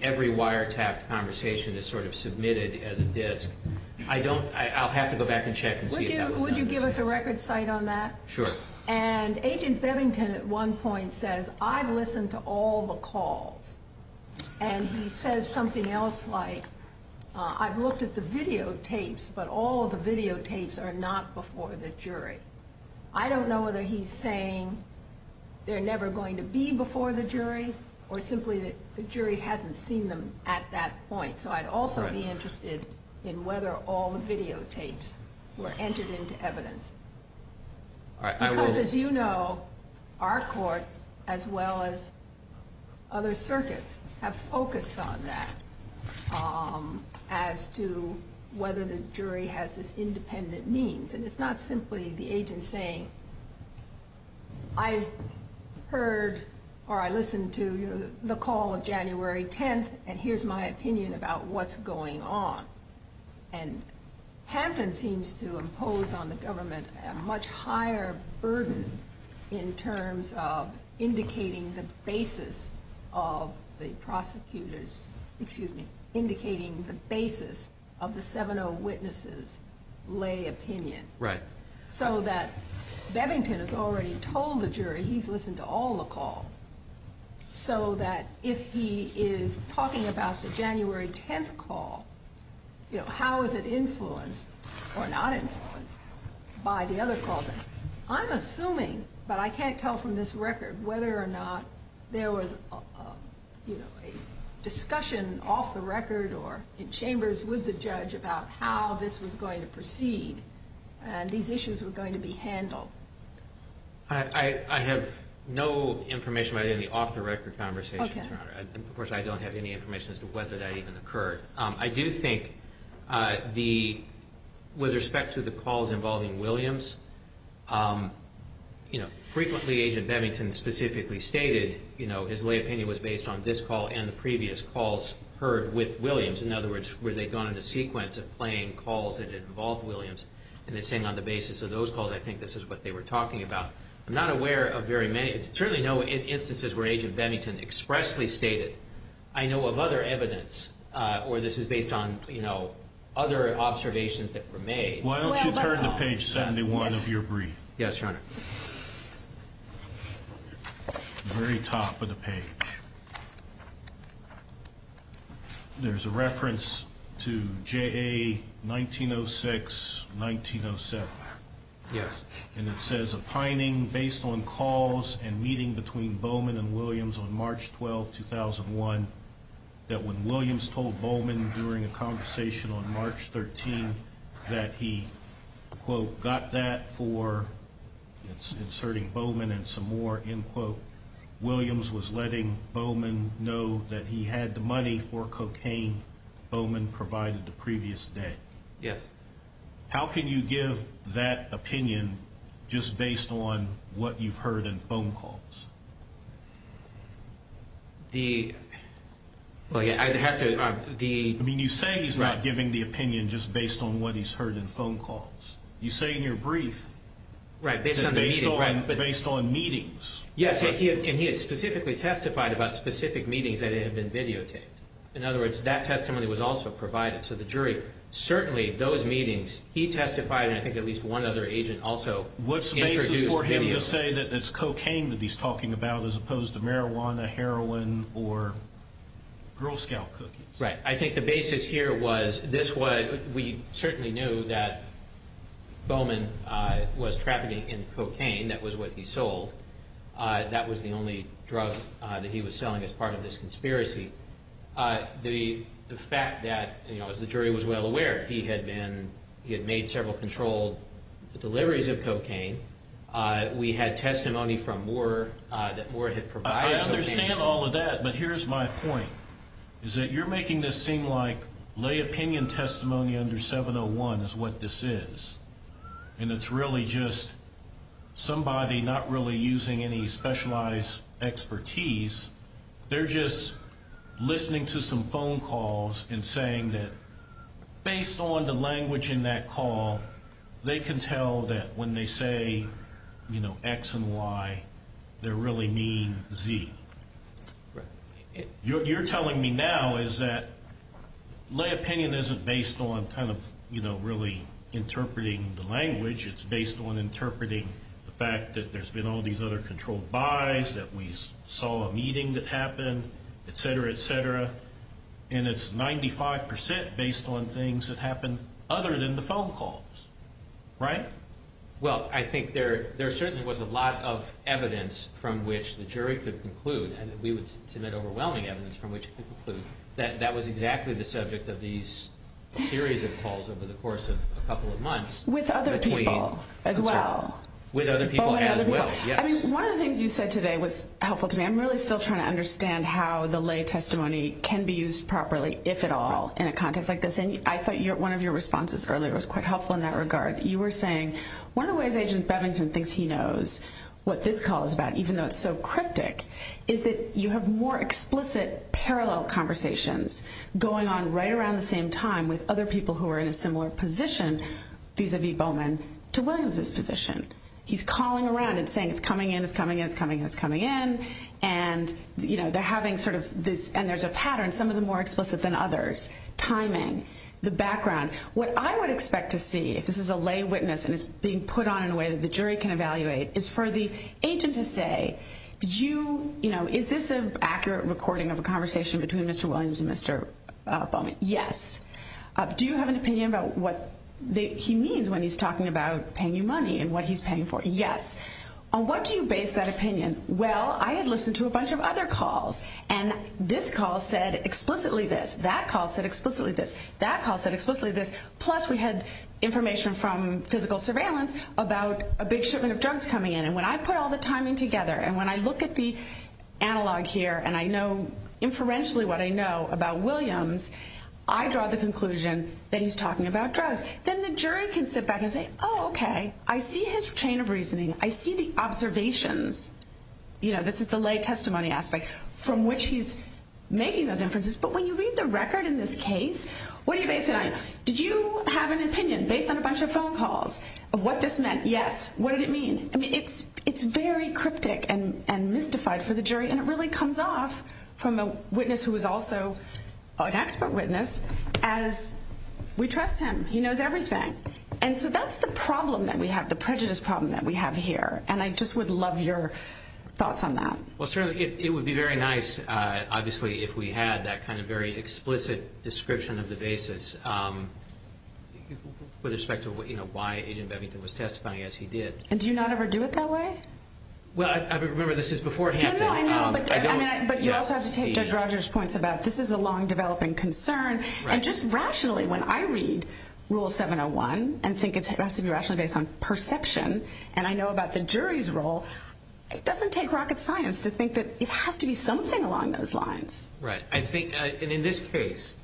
every wiretap conversation is sort of submitted as a disk. I'll have to go back and check and see if that's true. Would you give us a record cite on that? Sure. And Agent Bevington at one point says, I've listened to all the calls, and he says something else like, I've looked at the videotapes, but all the videotapes are not before the jury. I don't know whether he's saying they're never going to be before the jury or simply that the jury hasn't seen them at that point. So I'd also be interested in whether all the videotapes were entered into evidence. Because, as you know, our court, as well as other circuits, have focused on that as to whether the jury has this independent means. And it's not simply the agent saying, I've heard or I listened to the call of January 10th, and here's my opinion about what's going on. And Hampton seems to impose on the government a much higher burden in terms of indicating the basis of the prosecutor's, excuse me, indicating the basis of the 7-0 witness's lay opinion. Right. So that Bevington has already told the jury he's listened to all the calls, so that if he is talking about the January 10th call, how is it influenced or not influenced by the other calls? I'm assuming, but I can't tell from this record, whether or not there was a discussion off the record or in chambers with the judge about how this was going to proceed and these issues were going to be handled. I have no information about any off-the-record conversations. Okay. Of course, I don't have any information as to whether that even occurred. I do think with respect to the calls involving Williams, you know, frequently Agent Bevington specifically stated, you know, his lay opinion was based on this call and the previous calls heard with Williams. In other words, were they going in the sequence of playing calls that involved Williams, and then saying on the basis of those calls, I think this is what they were talking about. I'm not aware of very many. There's certainly no instances where Agent Bevington expressly stated, I know of other evidence or this is based on, you know, other observations that were made. Why don't you turn to page 71 of your brief. Yes, Your Honor. The very top of the page. There's a reference to JA 1906-1907. Yes. And it says, opining based on calls and meeting between Bowman and Williams on March 12, 2001, that when Williams told Bowman during a conversation on March 13 that he, quote, got that for, it's inserting Bowman and some more, end quote, Williams was letting Bowman know that he had the money for cocaine Bowman provided the previous day. Yes. How can you give that opinion just based on what you've heard in phone calls? The, I'd have to, the. I mean, you say he's not giving the opinion just based on what he's heard in phone calls. You say in your brief. Right, based on the meeting. Based on meetings. Yes, and he had specifically testified about specific meetings that had been videotaped. In other words, that testimony was also provided to the jury. Certainly those meetings, he testified and I think at least one other agent also. What's the basis for him to say that it's cocaine that he's talking about as opposed to marijuana, heroin, or Girl Scout cookies? Right. I think the basis here was this was, we certainly knew that Bowman was trafficking in cocaine. That was what he sold. That was the only drug that he was selling as part of this conspiracy. The fact that, you know, the jury was well aware. He had been, he had made several controlled deliveries of cocaine. We had testimony from Moore that Moore had provided. I understand all of that, but here's my point. Is that you're making this seem like lay opinion testimony under 701 is what this is. And it's really just somebody not really using any specialized expertise. They're just listening to some phone calls and saying that based on the language in that call, they can tell that when they say, you know, X and Y, they really mean Z. You're telling me now is that lay opinion isn't based on kind of, you know, really interpreting the language. It's based on interpreting the fact that there's been all these other controlled buys, that we saw a meeting that happened, et cetera, et cetera. And it's 95% based on things that happened other than the phone calls. Right? Well, I think there certainly was a lot of evidence from which the jury could conclude, and we would submit overwhelming evidence from which it could conclude, that that was exactly the subject of these series of calls over the course of a couple of months. With other people as well. With other people as well, yes. I mean, one of the things you said today was helpful to me. I'm really still trying to understand how the lay testimony can be used properly, if at all, in a context like this. And I thought one of your responses earlier was quite helpful in that regard. You were saying one of the ways that Agent Bevington thinks he knows what this call is about, even though it's so cryptic, is that you have more explicit parallel conversations going on right around the same time with other people who are in a similar position, vis-a-vis Bowman, to learn of this position. He's calling around and saying it's coming in, it's coming in, it's coming in, it's coming in. And, you know, they're having sort of this, and there's a pattern, some of them more explicit than others. Timing, the background. What I would expect to see, if this is a lay witness and it's being put on in a way that the jury can evaluate, is for the agent to say, you know, is this an accurate recording of a conversation between Mr. Williams and Mr. Bowman? Yes. Do you have an opinion about what he means when he's talking about paying you money and what he's paying for? Yes. On what do you base that opinion? Well, I had listened to a bunch of other calls, and this call said explicitly this. That call said explicitly this. That call said explicitly this. Plus, we had information from physical surveillance about a big shipment of drugs coming in. And when I put all the timing together and when I look at the analog here and I know inferentially what I know about Williams, I draw the conclusion that he's talking about drugs. Then the jury can sit back and say, oh, okay, I see his chain of reasoning. I see the observations. You know, this is the lay testimony aspect from which he's making those inferences. But when you read the record in this case, what do you base it on? Did you have an opinion based on a bunch of phone calls of what this meant? Yes. What did it mean? I mean, it's very cryptic and mystified for the jury, and it really comes off from a witness who is also an expert witness as we trust him. He knows everything. And so that's the problem that we have, the prejudice problem that we have here. And I just would love your thoughts on that. Well, certainly it would be very nice, obviously, if we had that kind of very explicit description of the basis with respect to, you know, why Agent Bevington was testifying as he did. And do you not ever do it that way? Well, I remember this is beforehand. No, no, I mean, but you also have to take Judge Rogers' points about this is a long-developing concern. And just rationally, when I read Rule 701 and think it has to be rationally based on perception, and I know about the jury's role, it doesn't take rocket science to think that it has to be something along those lines. Right. I think, and in this case,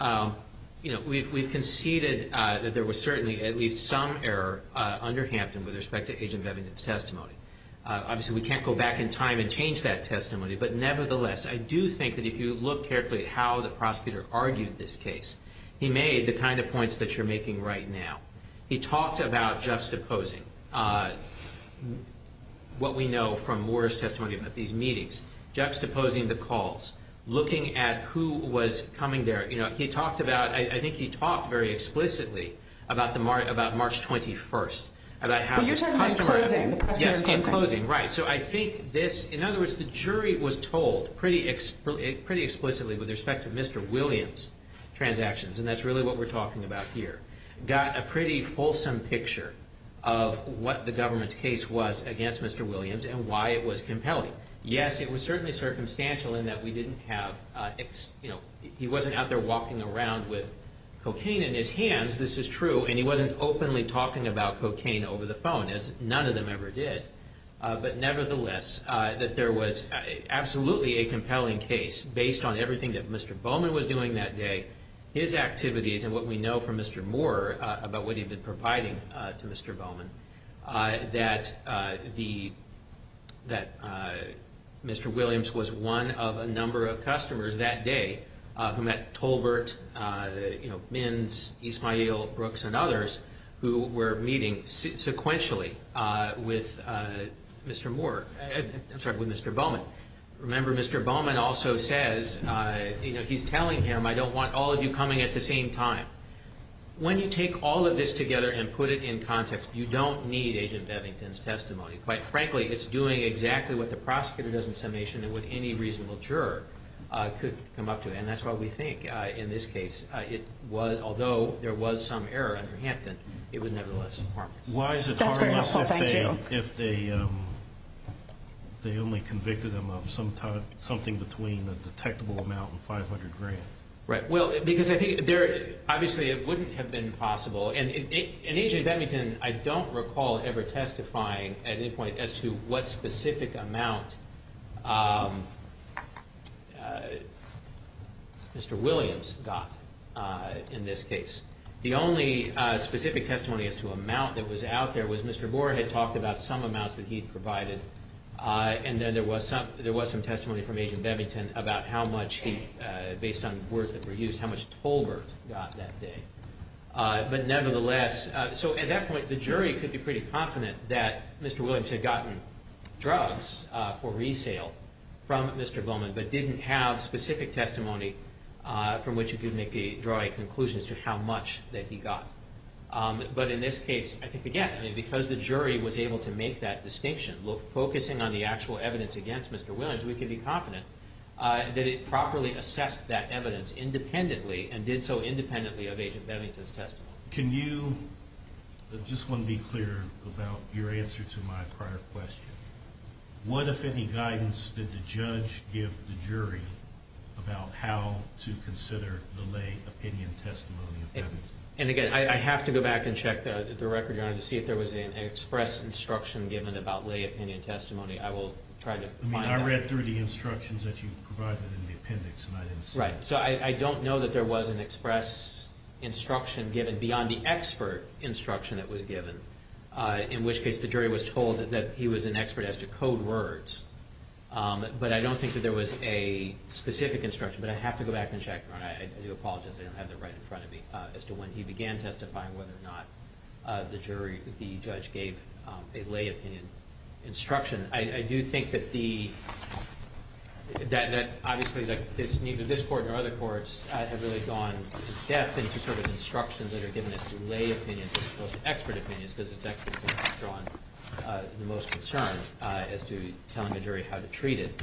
you know, we've conceded that there was certainly at least some error under Hampton with respect to Agent Bevington's testimony. Obviously, we can't go back in time and change that testimony. But nevertheless, I do think that if you look carefully at how the prosecutor argued this case, he made the kind of points that you're making right now. He talked about juxtaposing what we know from Morris' testimony about these meetings. Juxtaposing the calls. Looking at who was coming there. You know, he talked about, I think he talked very explicitly about March 21st. But you said in closing. Yes, in closing. Right. So I think this, in other words, the jury was told pretty explicitly with respect to Mr. Williams' transactions, and that's really what we're talking about here. Got a pretty fulsome picture of what the government's case was against Mr. Williams and why it was compelling. Yes, it was certainly circumstantial in that we didn't have, you know, he wasn't out there walking around with cocaine in his hands. This is true. And he wasn't openly talking about cocaine over the phone as none of them ever did. But nevertheless, that there was absolutely a compelling case based on everything that Mr. Bowman was doing that day, his activities and what we know from Mr. Moore about what he'd been providing to Mr. Bowman, that Mr. Williams was one of a number of customers that day who met Tolbert, you know, Minns, East Monteal, Brooks, and others who were meeting sequentially with Mr. Moore. I'm sorry, with Mr. Bowman. Remember, Mr. Bowman also says, you know, he's telling him, I don't want all of you coming at the same time. When you take all of this together and put it in context, you don't need Agent Bevington's testimony. Quite frankly, it's doing exactly what the prosecutor does in summation and what any reasonable juror could come up with. And that's why we think in this case it was, although there was some error under Hampton, it was nevertheless harmless. Why is it harmless if they only convicted him of something between a detectable amount and 500 grand? Right. Well, because I think obviously it wouldn't have been possible. And Agent Bevington, I don't recall ever testifying at any point as to what specific amount Mr. Williams got in this case. The only specific testimony as to amount that was out there was Mr. Moore had talked about some amount that he'd provided. And then there was some testimony from Agent Bevington about how much he, based on words that were used, how much Tolbert got that day. But nevertheless, so at that point, the jury could be pretty confident that Mr. Williams had gotten drugs for resale from Mr. Bowman, but didn't have specific testimony from which to draw a conclusion as to how much that he got. But in this case, I think, again, because the jury was able to make that distinction, focusing on the actual evidence against Mr. Williams, we can be confident that it properly assessed that evidence independently and did so independently of Agent Bevington's testimony. Can you, I just want to be clear about your answer to my prior question. What, if any, guidance did the judge give the jury about how to consider the lay opinion testimony? And again, I have to go back and check the record to see if there was an express instruction given about lay opinion testimony. I will try to find that. I mean, I read through the instructions that you provided in the appendix. Right. So I don't know that there was an express instruction given beyond the expert instruction that was given, in which case the jury was told that he was an expert as to code words. But I don't think that there was a specific instruction. But I have to go back and check. I do apologize. I don't have it right in front of me. As to when he began testifying, whether or not the jury, the judge gave a lay opinion instruction. I do think that the, that obviously it's neither this court nor other courts have really gone to depth into sort of instructions that are given as to lay opinions as opposed to expert opinions. This is definitely what has drawn the most concern as to telling the jury how to treat it.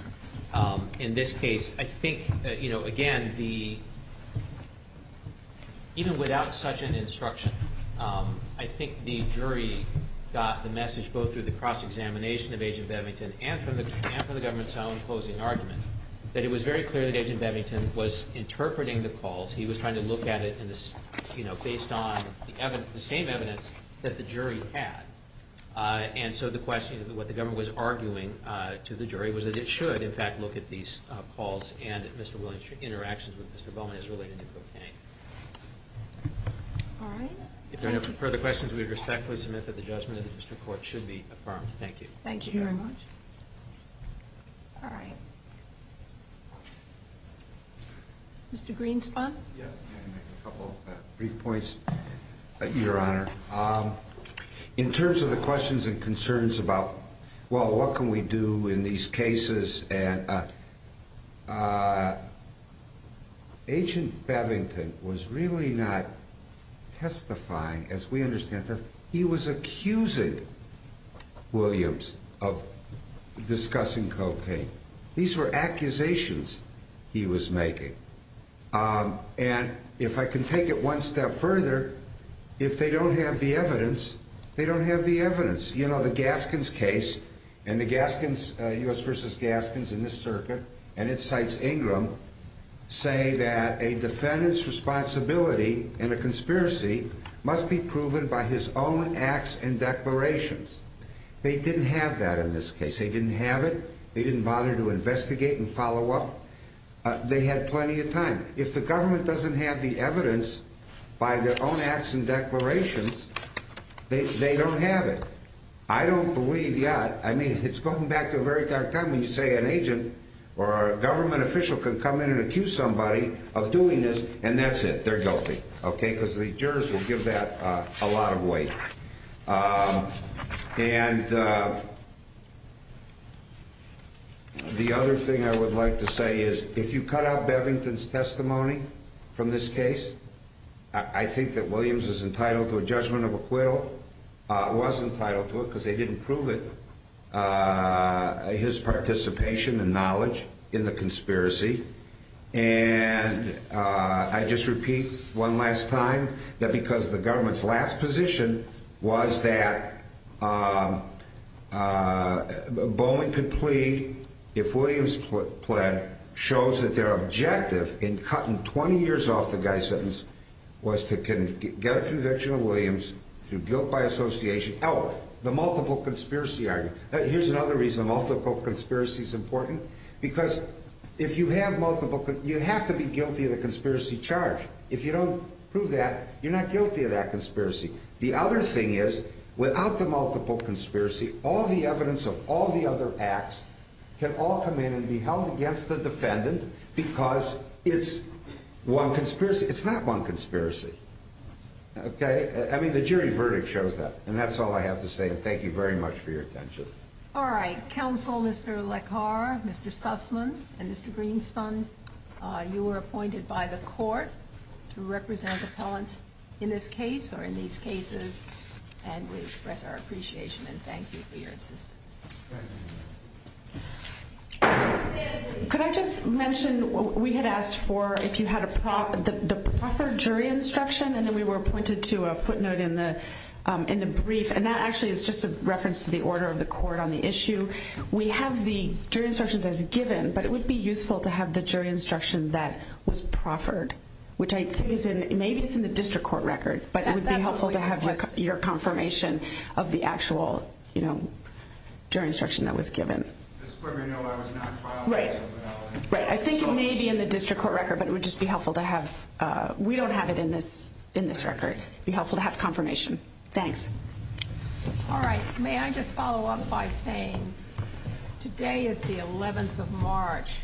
In this case, I think that, you know, again, the, even without such an instruction, I think the jury got the message both through the cross-examination of Agent Bevington and from the government's own closing argument, that it was very clear that Agent Bevington was interpreting the calls. He was trying to look at it, you know, based on the evidence, the same evidence that the jury had. And so the question of what the government was arguing to the jury was that it should, in fact, look at these calls and Mr. Williams' interactions with Mr. Bowen as related to cocaine. If there are no further questions, we respectfully submit that the judgment of the district court should be affirmed. Thank you. Thank you very much. All right. Mr. Greenspun? Yes. A couple brief points, Your Honor. In terms of the questions and concerns about, well, what can we do in these cases, and Agent Bevington was really not testifying, as we understand, he was accusing Williams of discussing cocaine. These were accusations he was making. And if I can take it one step further, if they don't have the evidence, they don't have the evidence. You know, the Gaskins case, and the Gaskins, U.S. v. Gaskins in this circuit, and it cites Ingram, say that a defendant's responsibility in a conspiracy must be proven by his own acts and declarations. They didn't have that in this case. They didn't have it. They didn't bother to investigate and follow up. They had plenty of time. If the government doesn't have the evidence by their own acts and declarations, they don't have it. I don't believe that. I mean, it's going back to a very dark time when you say an agent or a government official can come in and accuse somebody of doing this, and that's it, they're guilty, okay, because the jurors will give that a lot of weight. And the other thing I would like to say is if you cut out Bevington's testimony from this case, I think that Williams is entitled to a judgment of acquittal. He was entitled to it because they didn't prove it, his participation and knowledge in the conspiracy. And I just repeat one last time that because the government's last position was that Bowling could plead, if Williams' plan shows that their objective in cutting 20 years off the guy's sentence was to get a conviction of Williams, to guilt by association, oh, the multiple conspiracy argument. Here's another reason multiple conspiracy is important. Because if you have multiple, you have to be guilty of the conspiracy charge. If you don't prove that, you're not guilty of that conspiracy. The other thing is, without the multiple conspiracy, all the evidence of all the other acts can all come in and be held against the defendant because it's one conspiracy. It's not one conspiracy. Okay? I mean, the jury verdict shows that. And that's all I have to say. Thank you very much for your attention. All right. Counsel, Mr. Lekhar, Mr. Sussman, and Mr. Greenspan, you were appointed by the court to represent appellants in this case or in these cases, and we express our appreciation and thank you for your assistance. Could I just mention, we had asked for if you had a proper jury instruction, and then we were appointed to a footnote in the brief. And that actually is just a reference to the order of the court on the issue. We have the jury instructions as given, but it would be useful to have the jury instruction that was proffered, which I think is in the district court record. But it would be helpful to have your confirmation of the actual, you know, jury instruction that was given. Right. I think it may be in the district court record, but it would just be helpful to have. We don't have it in this record. It would be helpful to have confirmation. Thanks. All right. May I just follow up by saying today is the 11th of March.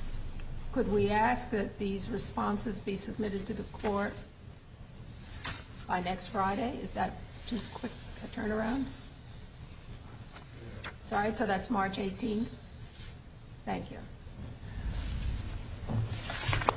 Could we ask that these responses be submitted to the court by next Friday? Is that too quick to turn around? Sorry, so that's March 18th? Thank you.